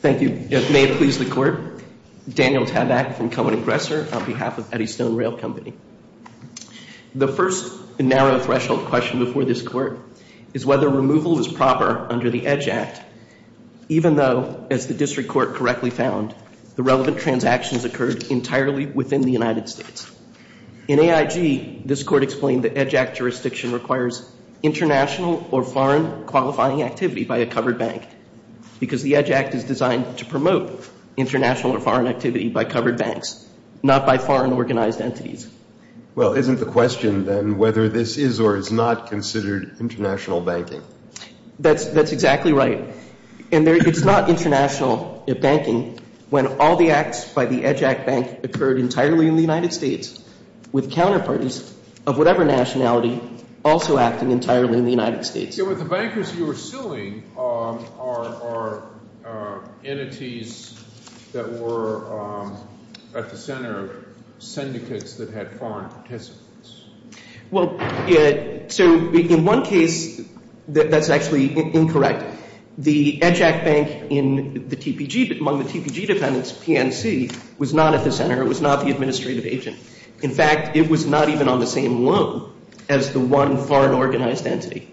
Thank you. If it may please the Court, Daniel Tabak from Cohen & Gresser on behalf of Eddystone Rail Company. The first narrow threshold question before this Court is whether removal is proper under the EDGE Act, even though, as the District Court correctly found, the relevant transactions occurred entirely within the United States. In AIG, this Court explained the EDGE Act jurisdiction requires international or foreign qualifying activity by a covered bank because the EDGE Act is designed to promote international or foreign activity by covered banks, not by foreign organized entities. Well, isn't the question then whether this is or is not considered international banking? That's exactly right. And there is not international banking when all the acts by the EDGE Act banks occurred entirely in the United States with counterfeits of whatever nationality also acting entirely in the United States. So what the bankers were suing are entities that were at the center, syndicates that had foreign participants. Well, so in one case, that's actually incorrect. The EDGE Act bank among the TPG dependents, PNC, was not at the center. It was not the administrative agent. In fact, it was not even on the same loan as the one foreign organized entity.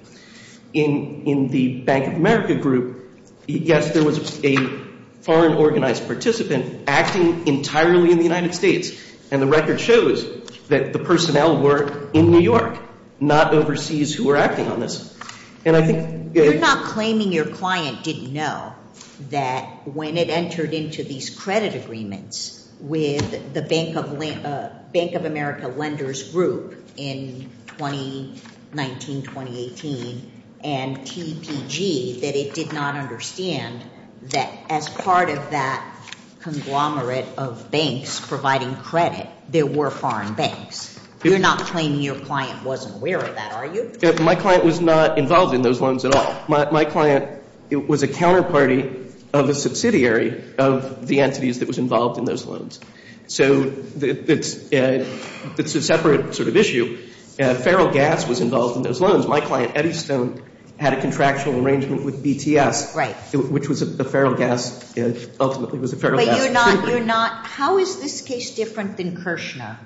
In the Bank of America group, yes, there was a foreign organized participant acting entirely in the United States. And the record shows that the personnel were in New York, not overseas who were acting on this. You're not claiming your client didn't know that when it entered into these credit agreements with the Bank of America lenders group in 2019-2018 and TPG that it did not understand that as part of that conglomerate of banks providing credit, there were foreign banks. You're not claiming your client wasn't aware of that, are you? My client was not involved in those loans at all. My client was a counterparty of a subsidiary of the entities that was involved in those loans. So it's a separate sort of issue. Feral gas was involved in those loans. My client Edison had a contractual arrangement with BTS, which was a feral gas. How is this case different than Kirchner,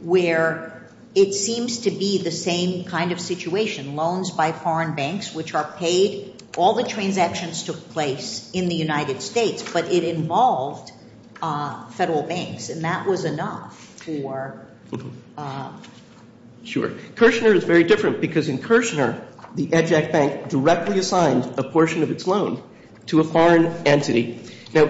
where it seems to be the same kind of situation. Loans by foreign banks, which are paid. All the transactions took place in the United States, but it involved federal banks. And that was enough for... Kirchner is very different, because in Kirchner, the EJAC bank directly assigned a portion of its loan to a foreign entity. Now,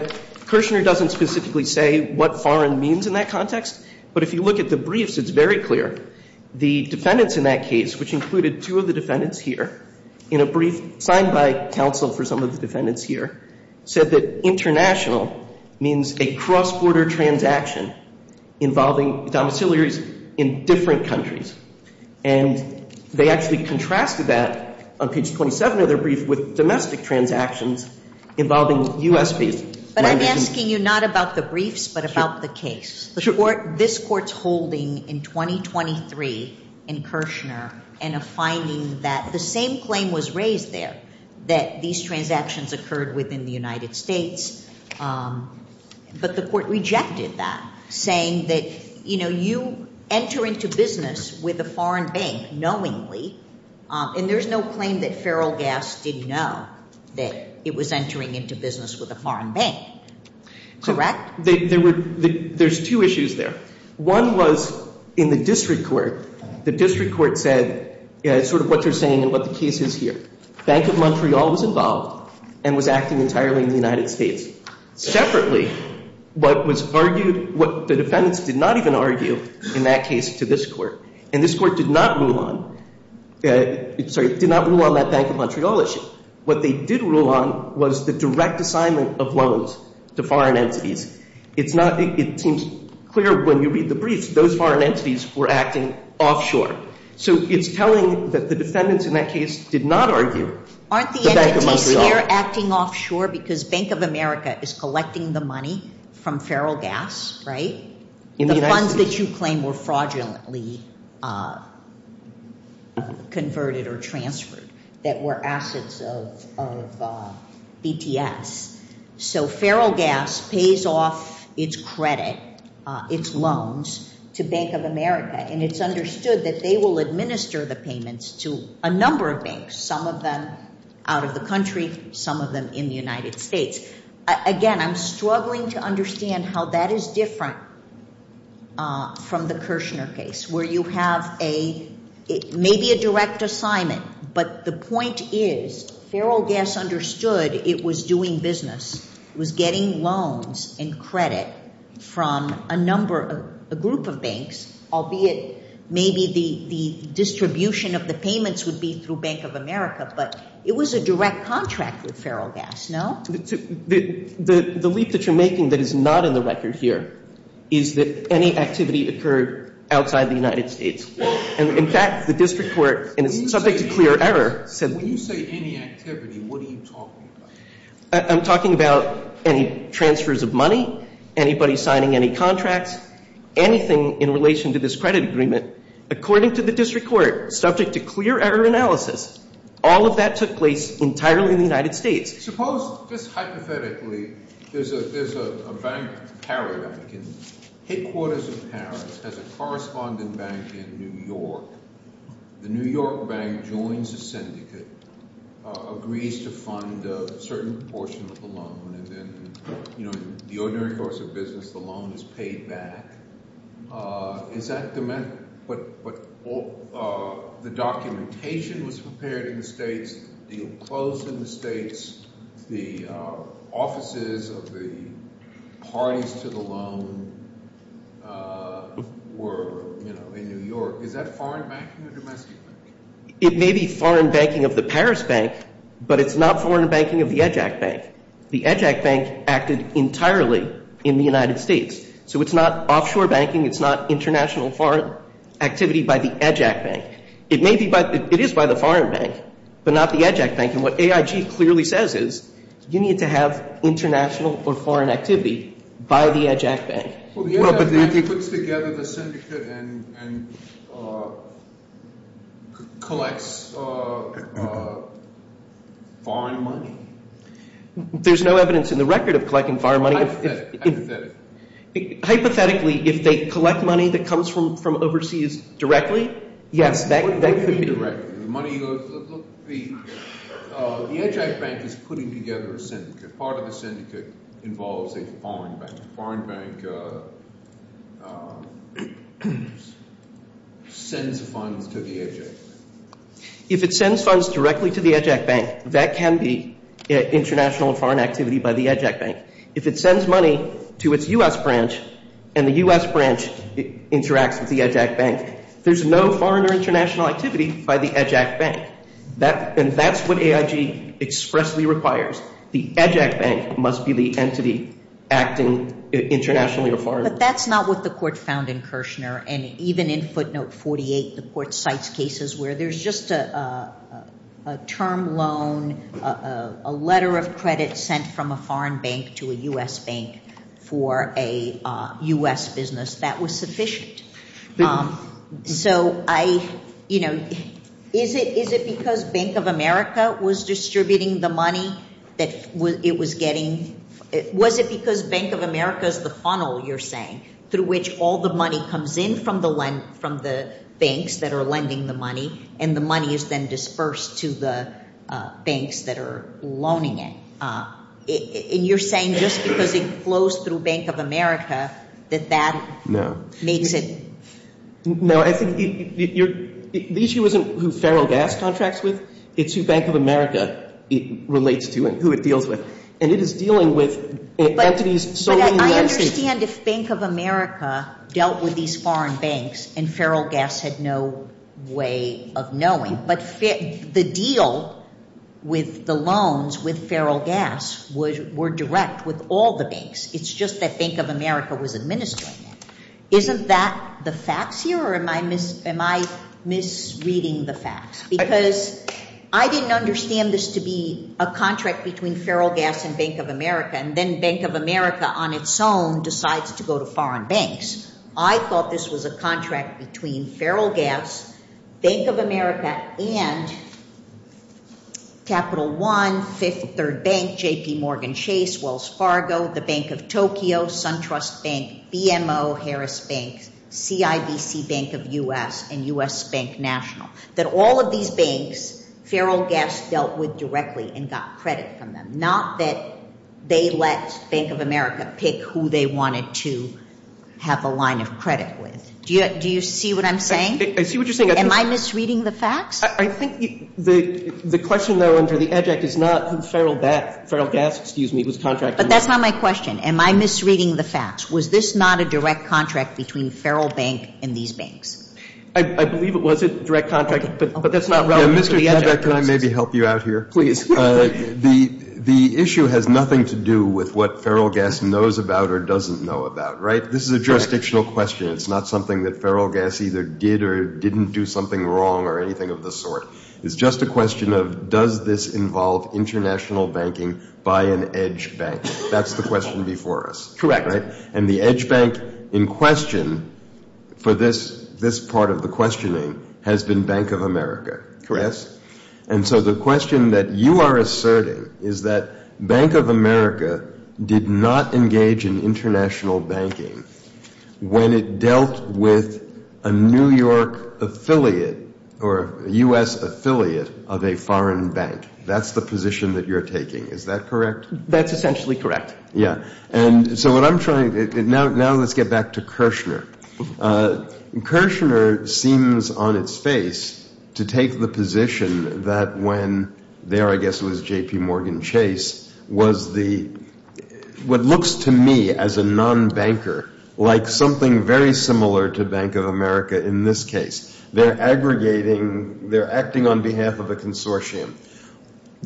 Kirchner doesn't specifically say what foreign means in that context, but if you look at the briefs, it's very clear. The defendants in that case, which included two of the defendants here, in a brief signed by counsel for some of the defendants here, said that international means a cross-border transaction involving domiciliaries in different countries. And they actually contrasted that, on page 27 of the brief, with domestic transactions involving U.S. banks. But I'm asking you not about the briefs, but about the case. This court's holding in 2023 in Kirchner, and a finding that the same claim was raised there, that these transactions occurred within the United States. But the court rejected that, saying that, you know, you enter into business with a foreign bank knowingly, and there's no claim that Feral Gas did know that it was entering into business with a foreign bank. Correct? There's two issues there. One was in the district court. The district court said sort of what they're saying and what the case is here. Bank of Montreal was involved and was acting entirely in the United States. Separately, what the defendants did not even argue in that case to this court, and this court did not rule on that Bank of Montreal issue, what they did rule on was the direct assignment of loans to foreign entities. It seems clear when you read the briefs, those foreign entities were acting offshore. So it's telling that the defendants in that case did not argue the Bank of Montreal issue. Aren't the entities there acting offshore because Bank of America is collecting the money from Feral Gas, right? The funds that you claim were fraudulently converted or transferred, that were assets of BTS. So Feral Gas pays off its credit, its loans, to Bank of America, and it's understood that they will administer the payments to a number of banks, some of them out of the country, some of them in the United States. Again, I'm struggling to understand how that is different from the Kirshner case, where you have maybe a direct assignment, but the point is Feral Gas understood it was doing business. It was getting loans and credit from a group of banks, albeit maybe the distribution of the payments would be through Bank of America, but it was a direct contract with Feral Gas, no? The leap that you're making that is not in the record here is that any activity occurred outside the United States. In fact, the district court, subject to clear error, said... When you say any activity, what are you talking about? I'm talking about any transfers of money, anybody signing any contracts, anything in relation to this credit agreement. According to the district court, subject to clear error analysis, all of that took place entirely in the United States. Suppose, just hypothetically, there's a bank in Paris, headquarters in Paris, has a corresponding bank in New York. The New York bank joins the syndicate, agrees to fund a certain portion of the loan, and the ordinary course of business, the loan is paid back. Is that the... The documentation is prepared in the States, the clothes in the States, the offices of the parties to the loan were in New York. Is that foreign banking or domestic banking? It may be foreign banking of the Paris bank, but it's not foreign banking of the EJAC bank. The EJAC bank acted entirely in the United States. So, it's not offshore banking, it's not international foreign activity by the EJAC bank. It is by the foreign bank, but not the EJAC bank. And what AIG clearly says is, you need to have international or foreign activity by the EJAC bank. But if he puts together the syndicate and collects foreign money? There's no evidence in the record of collecting foreign money. Hypothetically, if they collect money that comes from overseas directly? Yes, they could do that. The EJAC bank is putting together a syndicate. Part of the syndicate involves a foreign bank. The foreign bank sends funds to the EJAC. If it sends funds directly to the EJAC bank, that can be international or foreign activity by the EJAC bank. If it sends money to its U.S. branch, and the U.S. branch interacts with the EJAC bank, there's no foreign or international activity by the EJAC bank. And that's what AIG expressly requires. The EJAC bank must be the entity acting internationally or foreign. But that's not what the court found in Kirshner. And even in footnote 48, the court cites cases where there's just a term loan, a letter of credit sent from a foreign bank to a U.S. bank for a U.S. business. That was sufficient. Is it because Bank of America was distributing the money that it was getting? Was it because Bank of America is the funnel, you're saying, through which all the money comes in from the banks that are lending the money, and the money is then dispersed to the banks that are loaning it? And you're saying just because it flows through Bank of America, that that makes it… No. The issue isn't who Feral Gas contracts with. It's who Bank of America relates to and who it deals with. But I understand if Bank of America dealt with these foreign banks and Feral Gas had no way of knowing, but the deal with the loans with Feral Gas were direct with all the banks. It's just that Bank of America was administering it. Isn't that the facts here, or am I misreading the facts? Because I didn't understand this to be a contract between Feral Gas and Bank of America, and then Bank of America on its own decides to go to foreign banks. I thought this was a contract between Feral Gas, Bank of America, and Capital One, Fifth, Third Bank, JPMorgan Chase, Wells Fargo, the Bank of Tokyo, SunTrust Bank, BMO, Harris Bank, CIDC Bank of U.S., and U.S. Bank National. That all of these banks Feral Gas dealt with directly and got credit from them. Not that they let Bank of America pick who they wanted to have a line of credit with. Do you see what I'm saying? I see what you're saying. Am I misreading the facts? I think the question, though, under the adjunct, is not who Feral Gas contracts with. But that's not my question. Am I misreading the facts? Was this not a direct contract between Feral Bank and these banks? I believe it was a direct contract, but that's not relevant. Mr. Conjecture, can I maybe help you out here? Please. The issue has nothing to do with what Feral Gas knows about or doesn't know about. This is a jurisdictional question. It's not something that Feral Gas either did or didn't do something wrong or anything of the sort. It's just a question of, does this involve international banking by an edge bank? That's the question before us. Correct. And the edge bank in question for this part of the questioning has been Bank of America. Correct. And so the question that you are asserting is that Bank of America did not engage in international banking when it dealt with a New York affiliate or a U.S. affiliate of a foreign bank. That's the position that you're taking. Is that correct? That's essentially correct. Now let's get back to Kirshner. Kirshner seems on its face to take the position that when there, I guess it was JPMorgan Chase, was what looks to me as a non-banker, like something very similar to Bank of America in this case. They're aggregating, they're acting on behalf of a consortium.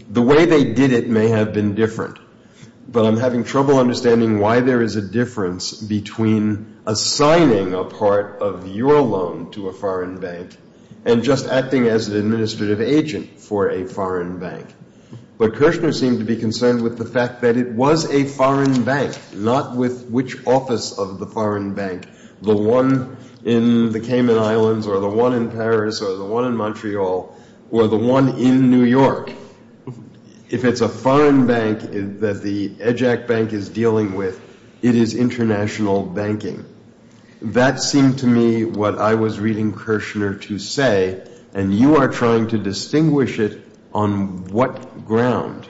The way they did it may have been different, but I'm having trouble understanding why there is a difference between assigning a part of your loan to a foreign bank and just acting as an administrative agent for a foreign bank. But Kirshner seemed to be concerned with the fact that it was a foreign bank, not with which office of the foreign bank, the one in the Cayman Islands or the one in Paris or the one in Montreal or the one in New York. If it's a foreign bank that the EJAC bank is dealing with, it is international banking. That seemed to me what I was reading Kirshner to say, and you are trying to distinguish it on what ground.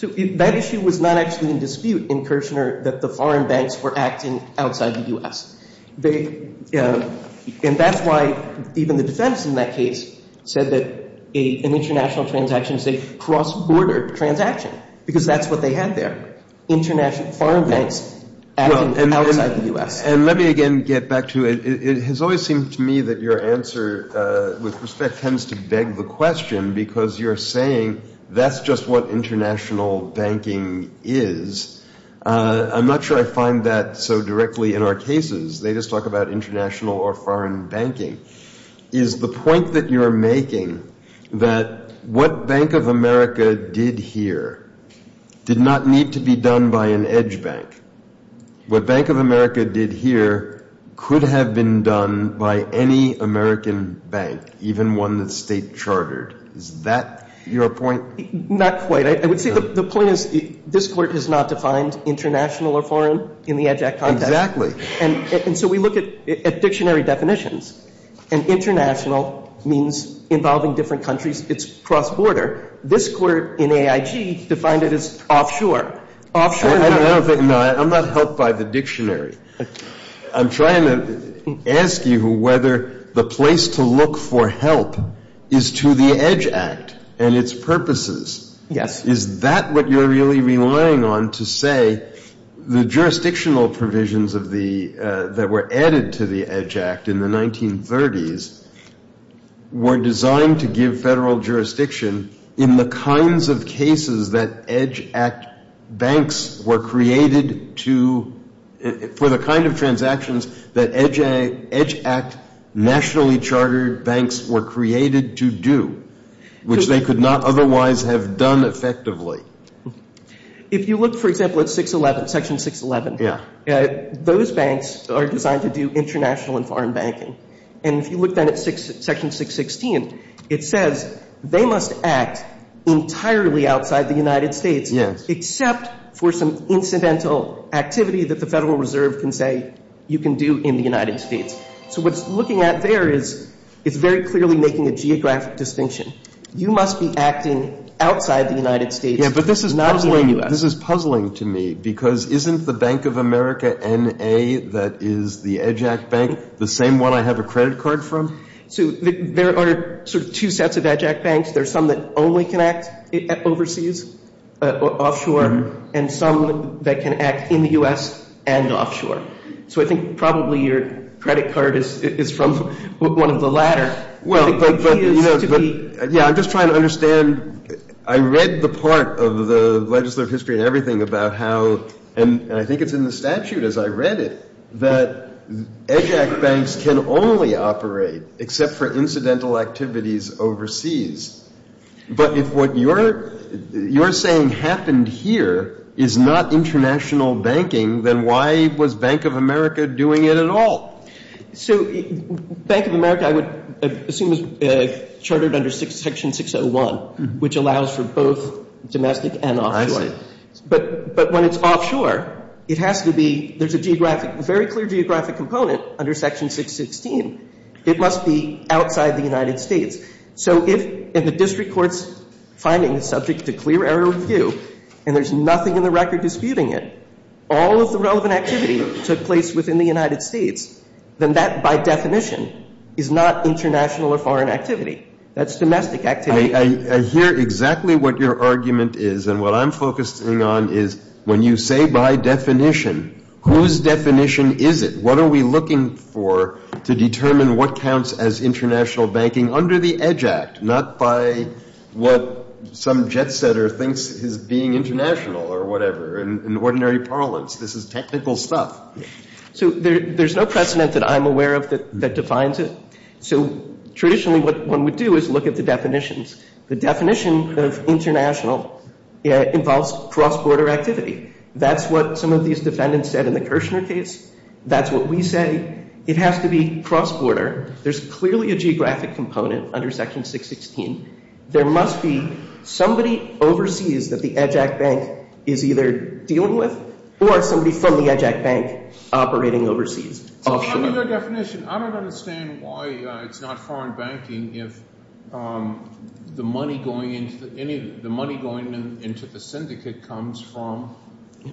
That issue was not actually in dispute in Kirshner that the foreign banks were acting outside the U.S. And that's why even the defense in that case said that in international transactions they cross-bordered transactions, because that's what they had there, international foreign banks acting outside the U.S. And let me again get back to it. It has always seemed to me that your answer with respect tends to beg the question, because you're saying that's just what international banking is. I'm not sure I find that so directly in our cases. They just talk about international or foreign banking. Is the point that you're making that what Bank of America did here did not need to be done by an edge bank? What Bank of America did here could have been done by any American bank, even one that's state-chartered. Is that your point? Not quite. I would say the point is this court has not defined international or foreign in the EDGE Act context. Exactly. And so we look at dictionary definitions, and international means involving different countries. It's cross-border. This court in AIG defined it as offshore. I'm not helped by the dictionary. I'm trying to ask you whether the place to look for help is to the EDGE Act and its purposes. Is that what you're really relying on to say the jurisdictional provisions that were added to the EDGE Act in the 1930s were designed to give federal jurisdiction in the kinds of transactions that EDGE Act nationally chartered banks were created to do, which they could not otherwise have done effectively? If you look, for example, at Section 611, those banks are designed to do international and foreign banking. And if you look at Section 616, it says they must act entirely outside the United States, except for some incidental activity that the Federal Reserve can say you can do in the United States. So what it's looking at there is it's very clearly making a geographic distinction. You must be acting outside the United States. This is puzzling to me because isn't the Bank of America N.A. that is the EDGE Act bank the same one I have a credit card from? There are two sets of EDGE Act banks. There are some that only can act overseas, offshore, and some that can act in the U.S. and offshore. So I think probably your credit card is from one of the latter. I'm just trying to understand. I read the part of the legislative history and everything about how, and I think it's in the statute as I read it, that EDGE Act banks can only operate except for incidental activities overseas. But if what you're saying happened here is not international banking, then why was Bank of America doing it at all? So Bank of America, I would assume, is chartered under Section 601, which allows for both domestic and online. But when it's offshore, there's a very clear geographic component under Section 616. It must be outside the United States. So if a district court's finding is subject to clear error review and there's nothing in the record disputing it, all of the relevant activities took place within the United States, then that, by definition, is not international or foreign activity. That's domestic activity. I hear exactly what your argument is. And what I'm focusing on is when you say by definition, whose definition is it? What are we looking for to determine what counts as international banking under the EDGE Act, not by what some jet-setter thinks is being international or whatever. In ordinary parlance, this is technical stuff. So there's no precedent that I'm aware of that defines it. So traditionally, what one would do is look at the definitions. The definition of international involves cross-border activity. That's what some of these defendants said in the Kirshner case. That's what we say. It has to be cross-border. There's clearly a geographic component under Section 616. There must be somebody overseas that the EDGE Act Bank is either dealing with or somebody from the EDGE Act Bank operating overseas. Under the definition, I don't understand why it's not foreign banking if the money going into the syndicate comes from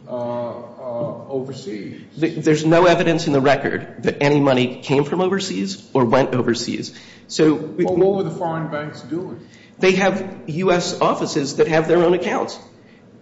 overseas. There's no evidence in the record that any money came from overseas or went overseas. What will the foreign banks do? They have U.S. offices that have their own accounts.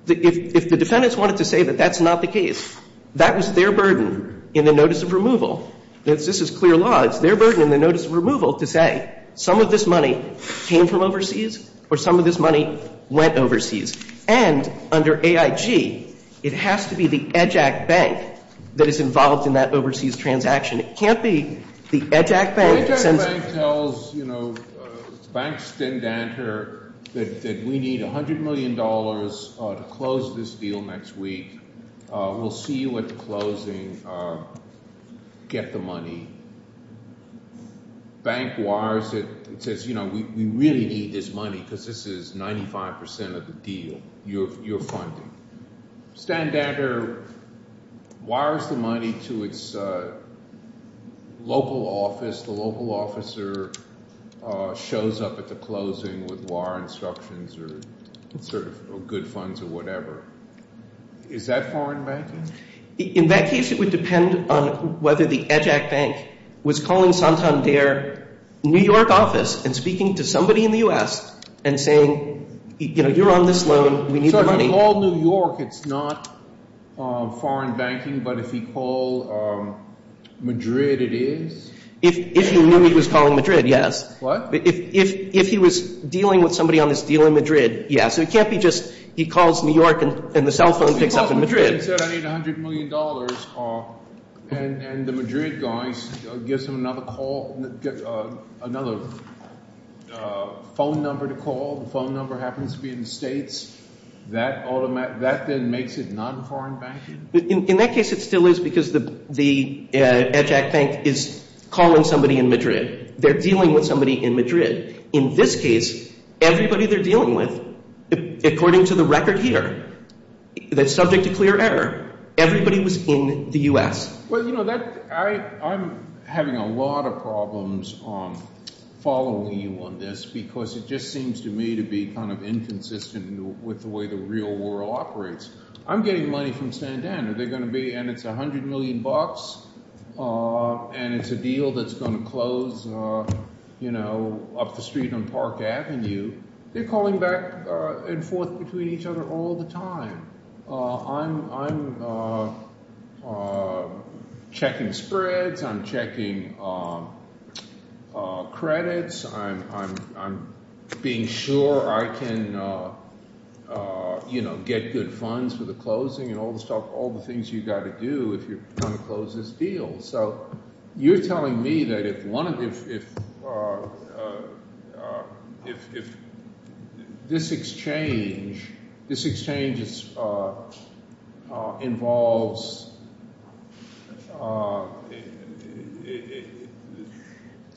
If the defendants wanted to say that that's not the case, that was their burden in the Notice of Removal. This is clear law. It's their burden in the Notice of Removal to say, some of this money came from overseas or some of this money went overseas. And under AIG, it has to be the EDGE Act Bank that is involved in that overseas transaction. It can't be the EDGE Act Bank. The EDGE Act Bank tells Bank Stendander that we need $100 million to close this deal next week. We'll see you at the closing. Get the money. Bank wires it, says, you know, we really need this money because this is 95% of the deal you're funding. Stendander wires the money to its local office. The local officer shows up at the closing with wire instructions or sort of good funds or whatever. Is that foreign banking? In that case, it would depend on whether the EDGE Act Bank was calling San San Dier New York office and speaking to somebody in the U.S. and saying, you know, you're on this loan. So if you call New York, it's not foreign banking, but if you call Madrid, it is? If you knew he was calling Madrid, yes. What? If he was dealing with somebody on this deal in Madrid, yes. It can't be just he calls New York and the cell phone picks up in Madrid. He said, I need $100 million. And the Madrid guy gives him another call, another phone number to call. The phone number happens to be in the States. That then makes it not foreign banking? In that case, it still is because the EDGE Act Bank is calling somebody in Madrid. They're dealing with somebody in Madrid. In this case, everybody they're dealing with, according to the record here, the subject of clear error, everybody was in the U.S. Well, you know, I'm having a lot of problems on following you on this because it just seems to me to be kind of inconsistent with the way the real world operates. I'm getting money from Sandan, and it's $100 million, and it's a deal that's going to close, you know, up the street on Park Avenue. They're calling back and forth between each other all the time. I'm checking spreads. I'm checking credits. I'm being sure I can, you know, get good funds for the closing and all the things you've got to do if you're going to close this deal. So you're telling me that if this exchange involves—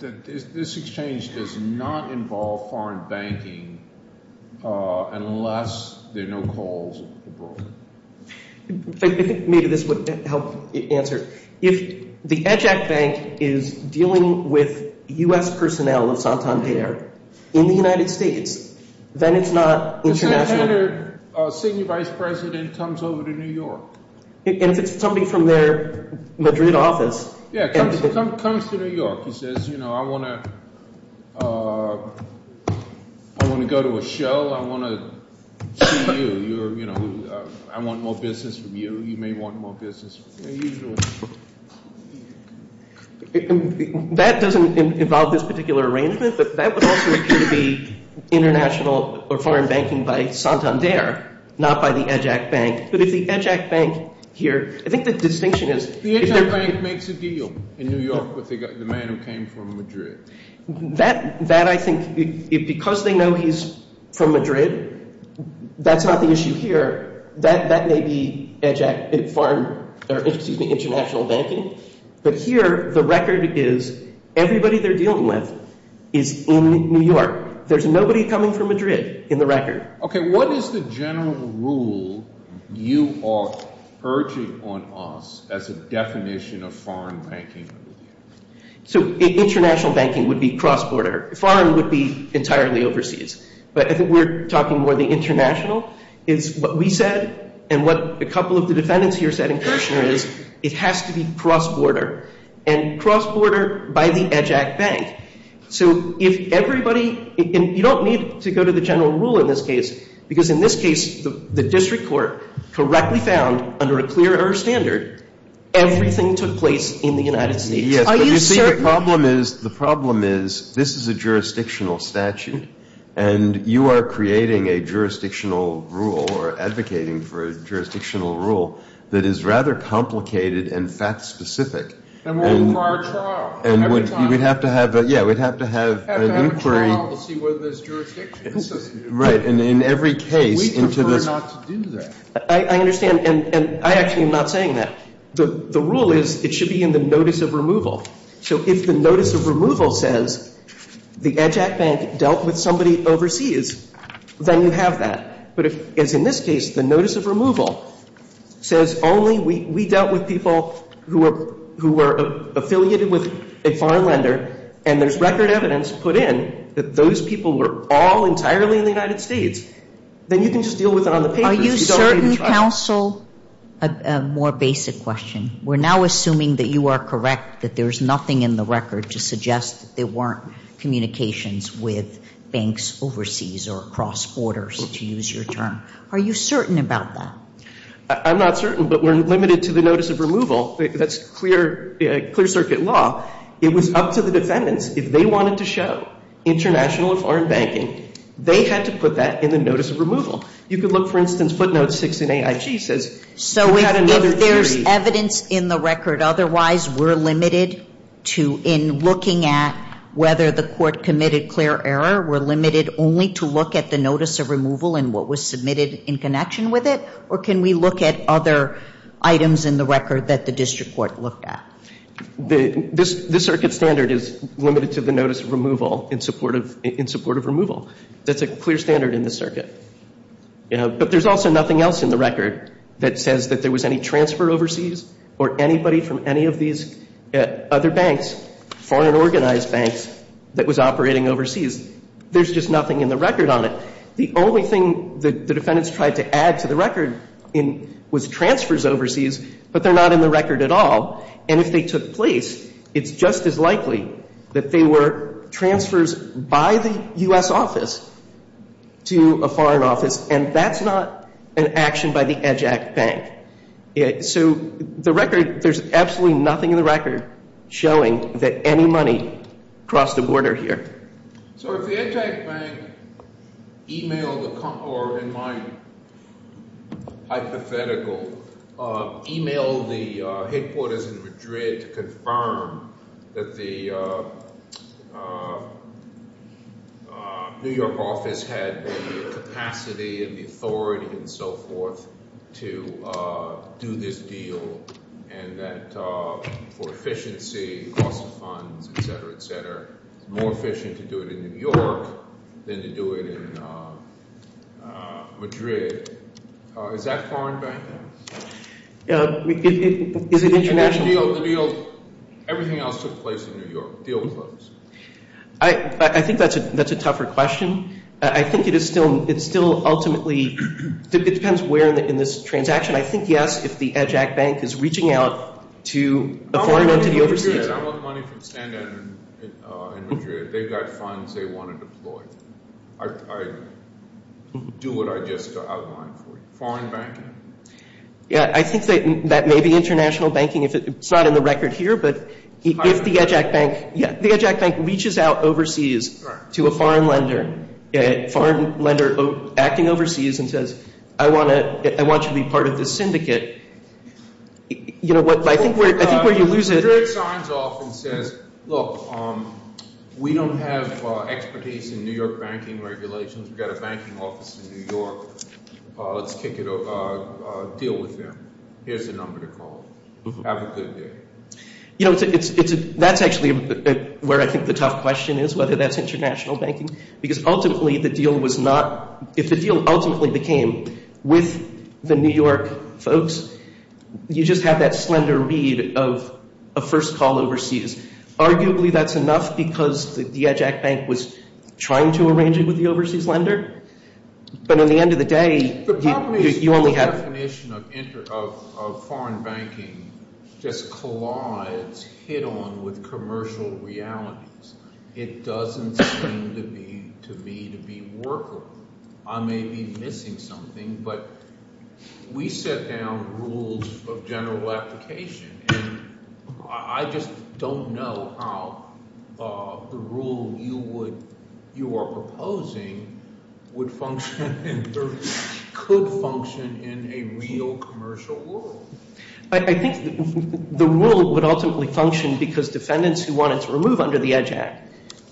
this exchange does not involve foreign banking unless there are no calls. Maybe this would help answer. If the EJAC bank is dealing with U.S. personnel, it's on top of the air, in the United States, then it's not international. A senior vice president comes over to New York. And it's somebody from their Madrid office. Yeah, comes to New York and says, you know, I want to go to a show. I want to see you. You know, I want more business from you. That doesn't involve this particular arrangement, but that would also appear to be international or foreign banking by Santander, not by the EJAC bank. But if the EJAC bank here—I think the distinction is— The EJAC bank makes a deal in New York with the man who came from Madrid. That, I think, because they know he's from Madrid, that's not the issue here. That may be international banking. But here, the record is everybody they're dealing with is in New York. There's nobody coming from Madrid in the record. Okay, what is the general rule you are urging on us as a definition of foreign banking? So international banking would be cross-border. Foreign would be entirely overseas. But I think we're talking more of the international. What we said and what a couple of the defendants here said in particular is it has to be cross-border, and cross-border by the EJAC bank. So if everybody—and you don't need to go to the general rule in this case, because in this case, the district court correctly found, under a clear-earth standard, everything took place in the United States. You see, the problem is this is a jurisdictional statute, and you are creating a jurisdictional rule or advocating for a jurisdictional rule that is rather complicated and fact-specific. And we'd have to have an inquiry into this. I understand, and I actually am not saying that. The rule is it should be in the notice of removal. So if the notice of removal says the EJAC bank dealt with somebody overseas, then you'd have that. But in this case, the notice of removal says only we dealt with people who were affiliated with a foreign lender, and there's record evidence put in that those people were all entirely in the United States. Then you can just deal with it on the basis of— Are you certain, counsel, a more basic question? We're now assuming that you are correct, that there's nothing in the record to suggest that there weren't communications with banks overseas or across borders, to use your term. Are you certain about that? I'm not certain, but we're limited to the notice of removal. That's clear circuit law. It was up to the defendants. If they wanted to show international foreign banking, they had to put that in the notice of removal. You could look, for instance, footnotes 16AIG says— So if there's evidence in the record otherwise, we're limited in looking at whether the court committed clear error? We're limited only to look at the notice of removal and what was submitted in connection with it? Or can we look at other items in the record that the district court looked at? The circuit standard is limited to the notice of removal in support of removal. That's a clear standard in the circuit. But there's also nothing else in the record that says that there was any transfer overseas or anybody from any of these other banks, foreign organized banks, that was operating overseas. There's just nothing in the record on it. The only thing that the defendants tried to add to the record was transfers overseas, but they're not in the record at all. And if they took place, it's just as likely that they were transfers by the U.S. office to a foreign office. And that's not an action by the EJAC bank. So the record, there's absolutely nothing in the record showing that any money crossed the border here. So if the EJAC bank emailed the concordant minor, hypothetical, emailed the headquarters in Madrid to confirm that the New York office had the capacity and the authority and so forth to do this deal and that for efficiency, cost of funds, et cetera, et cetera, more efficient to do it in New York than to do it in Madrid, is that foreign bank? Is it international? Everything else took place in New York. I think that's a tougher question. I think it is still ultimately, it depends where in this transaction. I think, yes, if the EJAC bank is reaching out to a foreign entity overseas. Yeah, that's what money can send in Madrid. They've got funds they want to deploy. I do what I just outlined for you. Foreign bank? Yeah, I think that may be international banking. It's not in the record here, but if the EJAC bank reaches out overseas to a foreign lender, a foreign lender acting overseas and says, I want you to be part of this syndicate. You know what, I think where you lose it. Well, it turns off and says, look, we don't have expertise in New York banking regulations. We've got a banking office in New York. Let's deal with them. Here's the number to call. Have a good day. You know, that's actually where I think the tough question is, whether that's international banking, because ultimately the deal was not, if the deal ultimately became with the New York folks, you just have that slender read of a first call overseas. Arguably that's enough because the EJAC bank was trying to arrange it with the overseas lender. But at the end of the day, you only have. The definition of foreign banking just collides head-on with commercial realities. It doesn't seem to me to be workable. I may be missing something, but we set down rules of general application, and I just don't know how the rule you are proposing would function and could function in a real commercial world. I think the rule would ultimately function because defendants who wanted to remove under the EJAC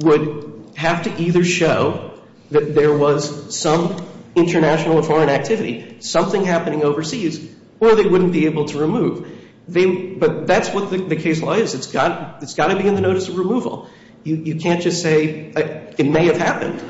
would have to either show that there was some international or foreign activity, something happening overseas, or they wouldn't be able to remove. But that's what the case law is. It's got to be in the notice of removal. You can't just say it may have happened.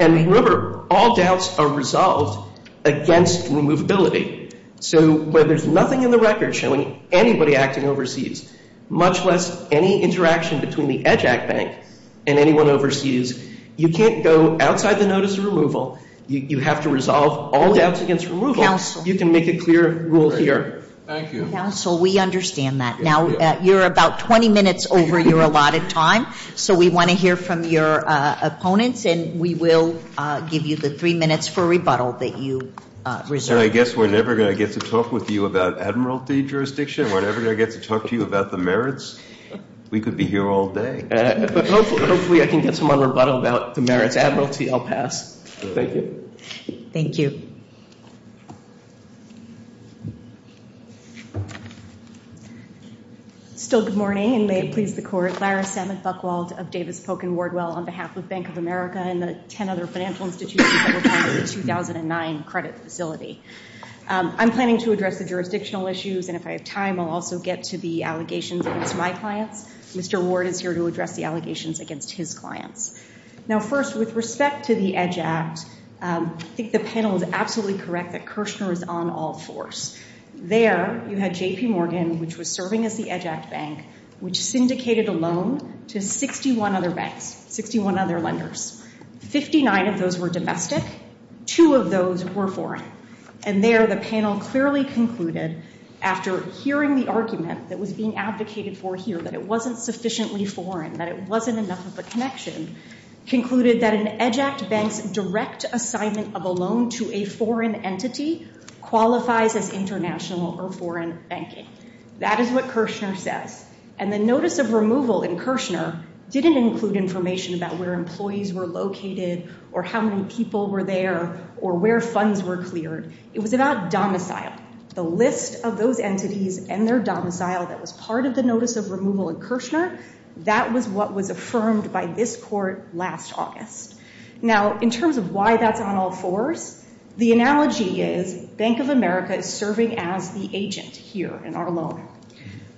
And remember, all doubts are resolved against removability. So where there's nothing in the record showing anybody acting overseas, much less any interaction between the EJAC bank and anyone overseas, you can't go outside the notice of removal. You have to resolve all doubts against removal. Counsel. You can make a clear rule here. Thank you. Counsel, we understand that. Now, you're about 20 minutes over your allotted time, so we want to hear from your opponents, and we will give you the three minutes for rebuttal that you reserve. So I guess we're never going to get to talk with you about Admiralty jurisdiction. We're never going to get to talk to you about the merits. We could be here all day. Hopefully I can get some more rebuttal about the merits of Admiralty. I'll pass. Thank you. Thank you. Still good morning, and may it please the Court. Lyra Samus Buchwald of Davis Polk & Wardwell on behalf of Bank of America and the 10 other financial institutions that are part of the 2009 credit facility. I'm planning to address the jurisdictional issues, and if I have time I'll also get to the allegations against my clients. Mr. Ward is here to address the allegations against his clients. Now, first, with respect to the EDGE Act, I think the panel is absolutely correct that Kirshner is on all fours. There you have J.P. Morgan, which was serving as the EDGE Act bank, which syndicated a loan to 61 other banks, 61 other lenders. Fifty-nine of those were domestic. Two of those were foreign. And there the panel clearly concluded after hearing the argument that was being advocated for here, that it wasn't sufficiently foreign, that it wasn't enough of a connection, concluded that an EDGE Act bank's direct assignment of a loan to a foreign entity qualifies as international or foreign banking. That is what Kirshner said. And the notice of removal in Kirshner didn't include information about where employees were located or how many people were there or where funds were cleared. It was about domicile. The list of those entities and their domicile that was part of the notice of removal in Kirshner, that was what was affirmed by this court last August. Now, in terms of why that's on all fours, the analogy is Bank of America is serving as the agent here in our loan.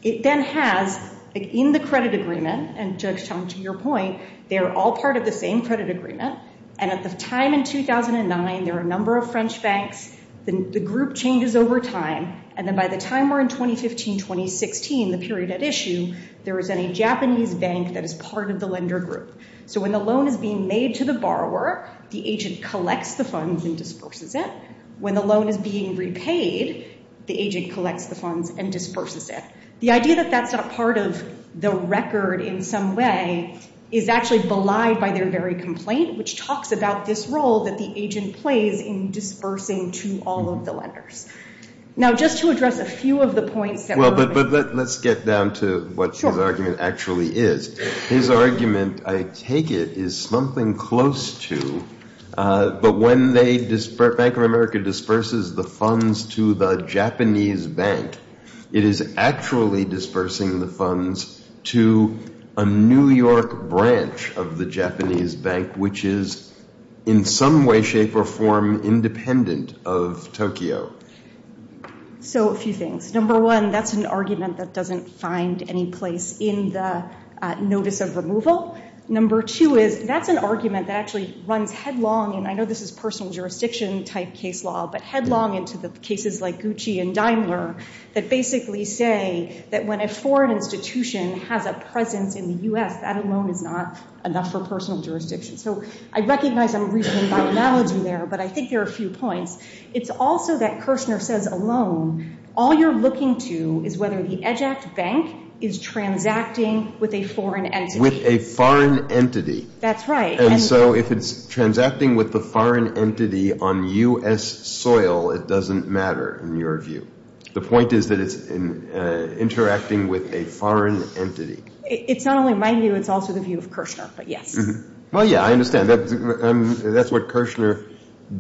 It then has, in the credit agreement, and just on to your point, they're all part of the same credit agreement. And at the time in 2009, there were a number of French banks. The group changes over time. And then by the time we're in 2015, 2016, the period at issue, there is a Japanese bank that is part of the lender group. So when the loan is being made to the borrower, the agent collects the funds and disperses it. When the loan is being repaid, the agent collects the funds and disperses it. The idea that that's not part of the record in some way is actually belied by their very complaint, which talks about this role that the agent plays in dispersing to all of the lenders. Now, just to address a few of the points that were made. But let's get down to what his argument actually is. His argument, I take it, is something close to, but when Bank of America disperses the funds to the Japanese bank, it is actually dispersing the funds to a New York branch of the Japanese bank, which is in some way, shape, or form independent of Tokyo. So a few things. Number one, that's an argument that doesn't find any place in the notice of removal. Number two is, that's an argument that actually runs headlong, and I know this is personal jurisdiction type case law, but headlong into the cases like Gucci and Daimler, that basically say that when a foreign institution has a presence in the U.S., that alone is not enough for personal jurisdiction. So I recognize I'm reaching my analogy there, but I think there are a few points. It's also that Kirshner says alone, all you're looking to is whether the eject bank is transacting with a foreign entity. With a foreign entity. That's right. And so if it's transacting with a foreign entity on U.S. soil, it doesn't matter in your view. The point is that it's interacting with a foreign entity. It's not only my view, it's also the view of Kirshner, but yes. Well, yeah, I understand. That's what Kirshner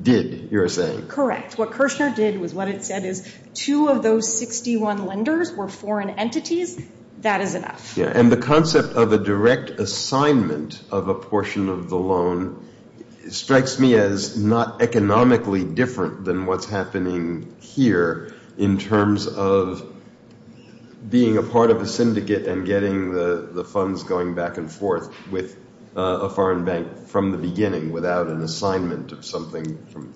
did, you're saying. Correct. What Kirshner did was what it said is two of those 61 lenders were foreign entities. That is enough. And the concept of a direct assignment of a portion of the loan strikes me as not economically different than what's happening here in terms of being a part of a syndicate and getting the funds going back and forth with a foreign bank from the beginning without an assignment of something.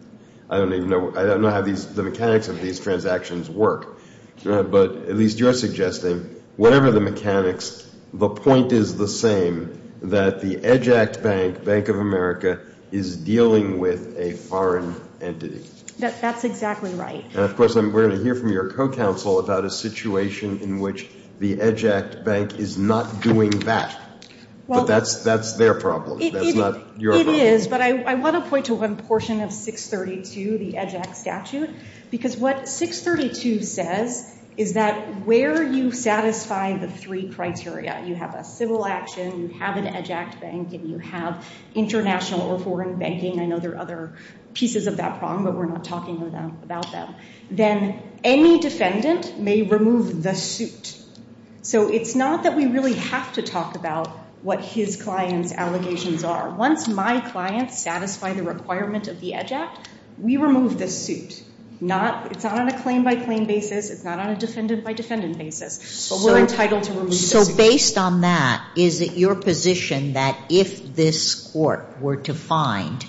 I don't know how the mechanics of these transactions work, but at least you're suggesting whatever the mechanics, the point is the same that the Eject Bank, Bank of America, is dealing with a foreign entity. That's exactly right. And, of course, we're going to hear from your co-counsel about a situation in which the Eject Bank is not doing that. That's their problem. It is, but I want to point to one portion of 632, the Eject Statute, because what 632 says is that where you satisfy the three criteria, you have a civil action, you have an Eject Bank, and you have international or foreign banking and other pieces of that problem, but we're not talking about them, then any defendant may remove the suit. So it's not that we really have to talk about what his client's allegations are. Once my client satisfies the requirements of the EDGE Act, we remove the suit. It's not on a claim-by-claim basis. It's not on a descendant-by-descendant basis, but we're entitled to remove the suit. So based on that, is it your position that if this court were to find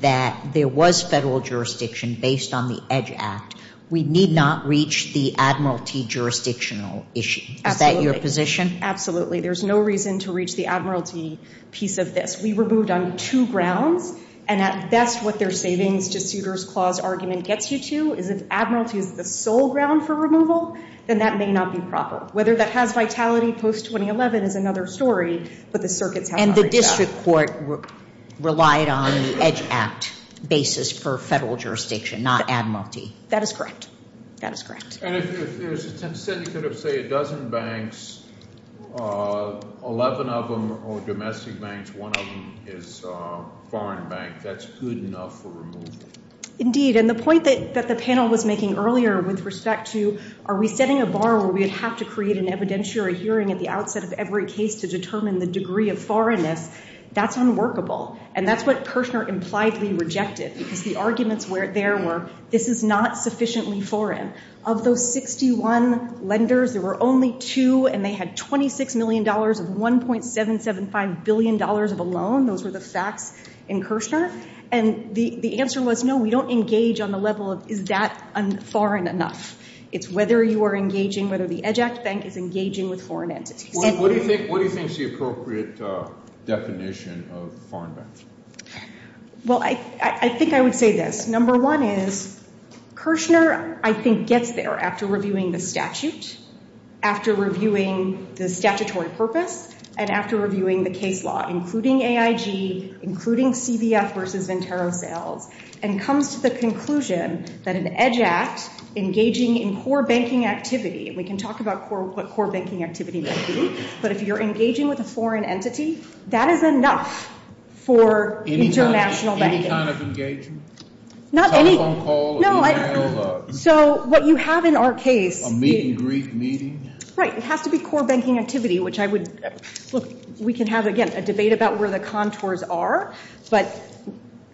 that there was federal jurisdiction based on the EDGE Act, we need not reach the Admiralty jurisdictional issue? Absolutely. Is that your position? Absolutely. There's no reason to reach the Admiralty piece of this. We removed on two grounds, and that's what their savings to suitor's clause argument gets you to. Is this Admiralty the sole ground for removal? Then that may not be proper. Whether that has vitality post-2011 is another story, but the circuit has... And the district court relied on the EDGE Act basis for federal jurisdiction, not Admiralty. That is correct. That is correct. And if there's a consensus of, say, a dozen banks, 11 of them are domestic banks, one of them is a foreign bank, that's good enough for removal? Indeed, and the point that the panel was making earlier with respect to are we setting a bar where we would have to create an evidentiary hearing at the outset of every case to determine the degree of foreignness, that's unworkable. And that's what Kirshner impliedly rejected. The arguments there were, this is not sufficiently foreign. Of those 61 lenders, there were only two, and they had $26 million of $1.775 billion of a loan. Those were the facts in Kirshner. And the answer was, no, we don't engage on the level of is that foreign enough. It's whether you are engaging, whether the EDGE Act bank is engaging with foreign entities. What do you think is the appropriate definition of foreignness? Well, I think I would say this. Number one is, Kirshner, I think, gets there after reviewing the statute, after reviewing the statutory purpose, and after reviewing the case law, including AIG, including CBS versus Ventura Bell, and comes to the conclusion that an EDGE Act engaging in core banking activity, we can talk about core banking activity later, but if you're engaging with a foreign entity, that is enough for international banking. What kind of engagement? Not any. So what you have in our case. A meet and greet meeting. Right, it has to be core banking activity, which I would, look, we can have, again, a debate about where the contours are, but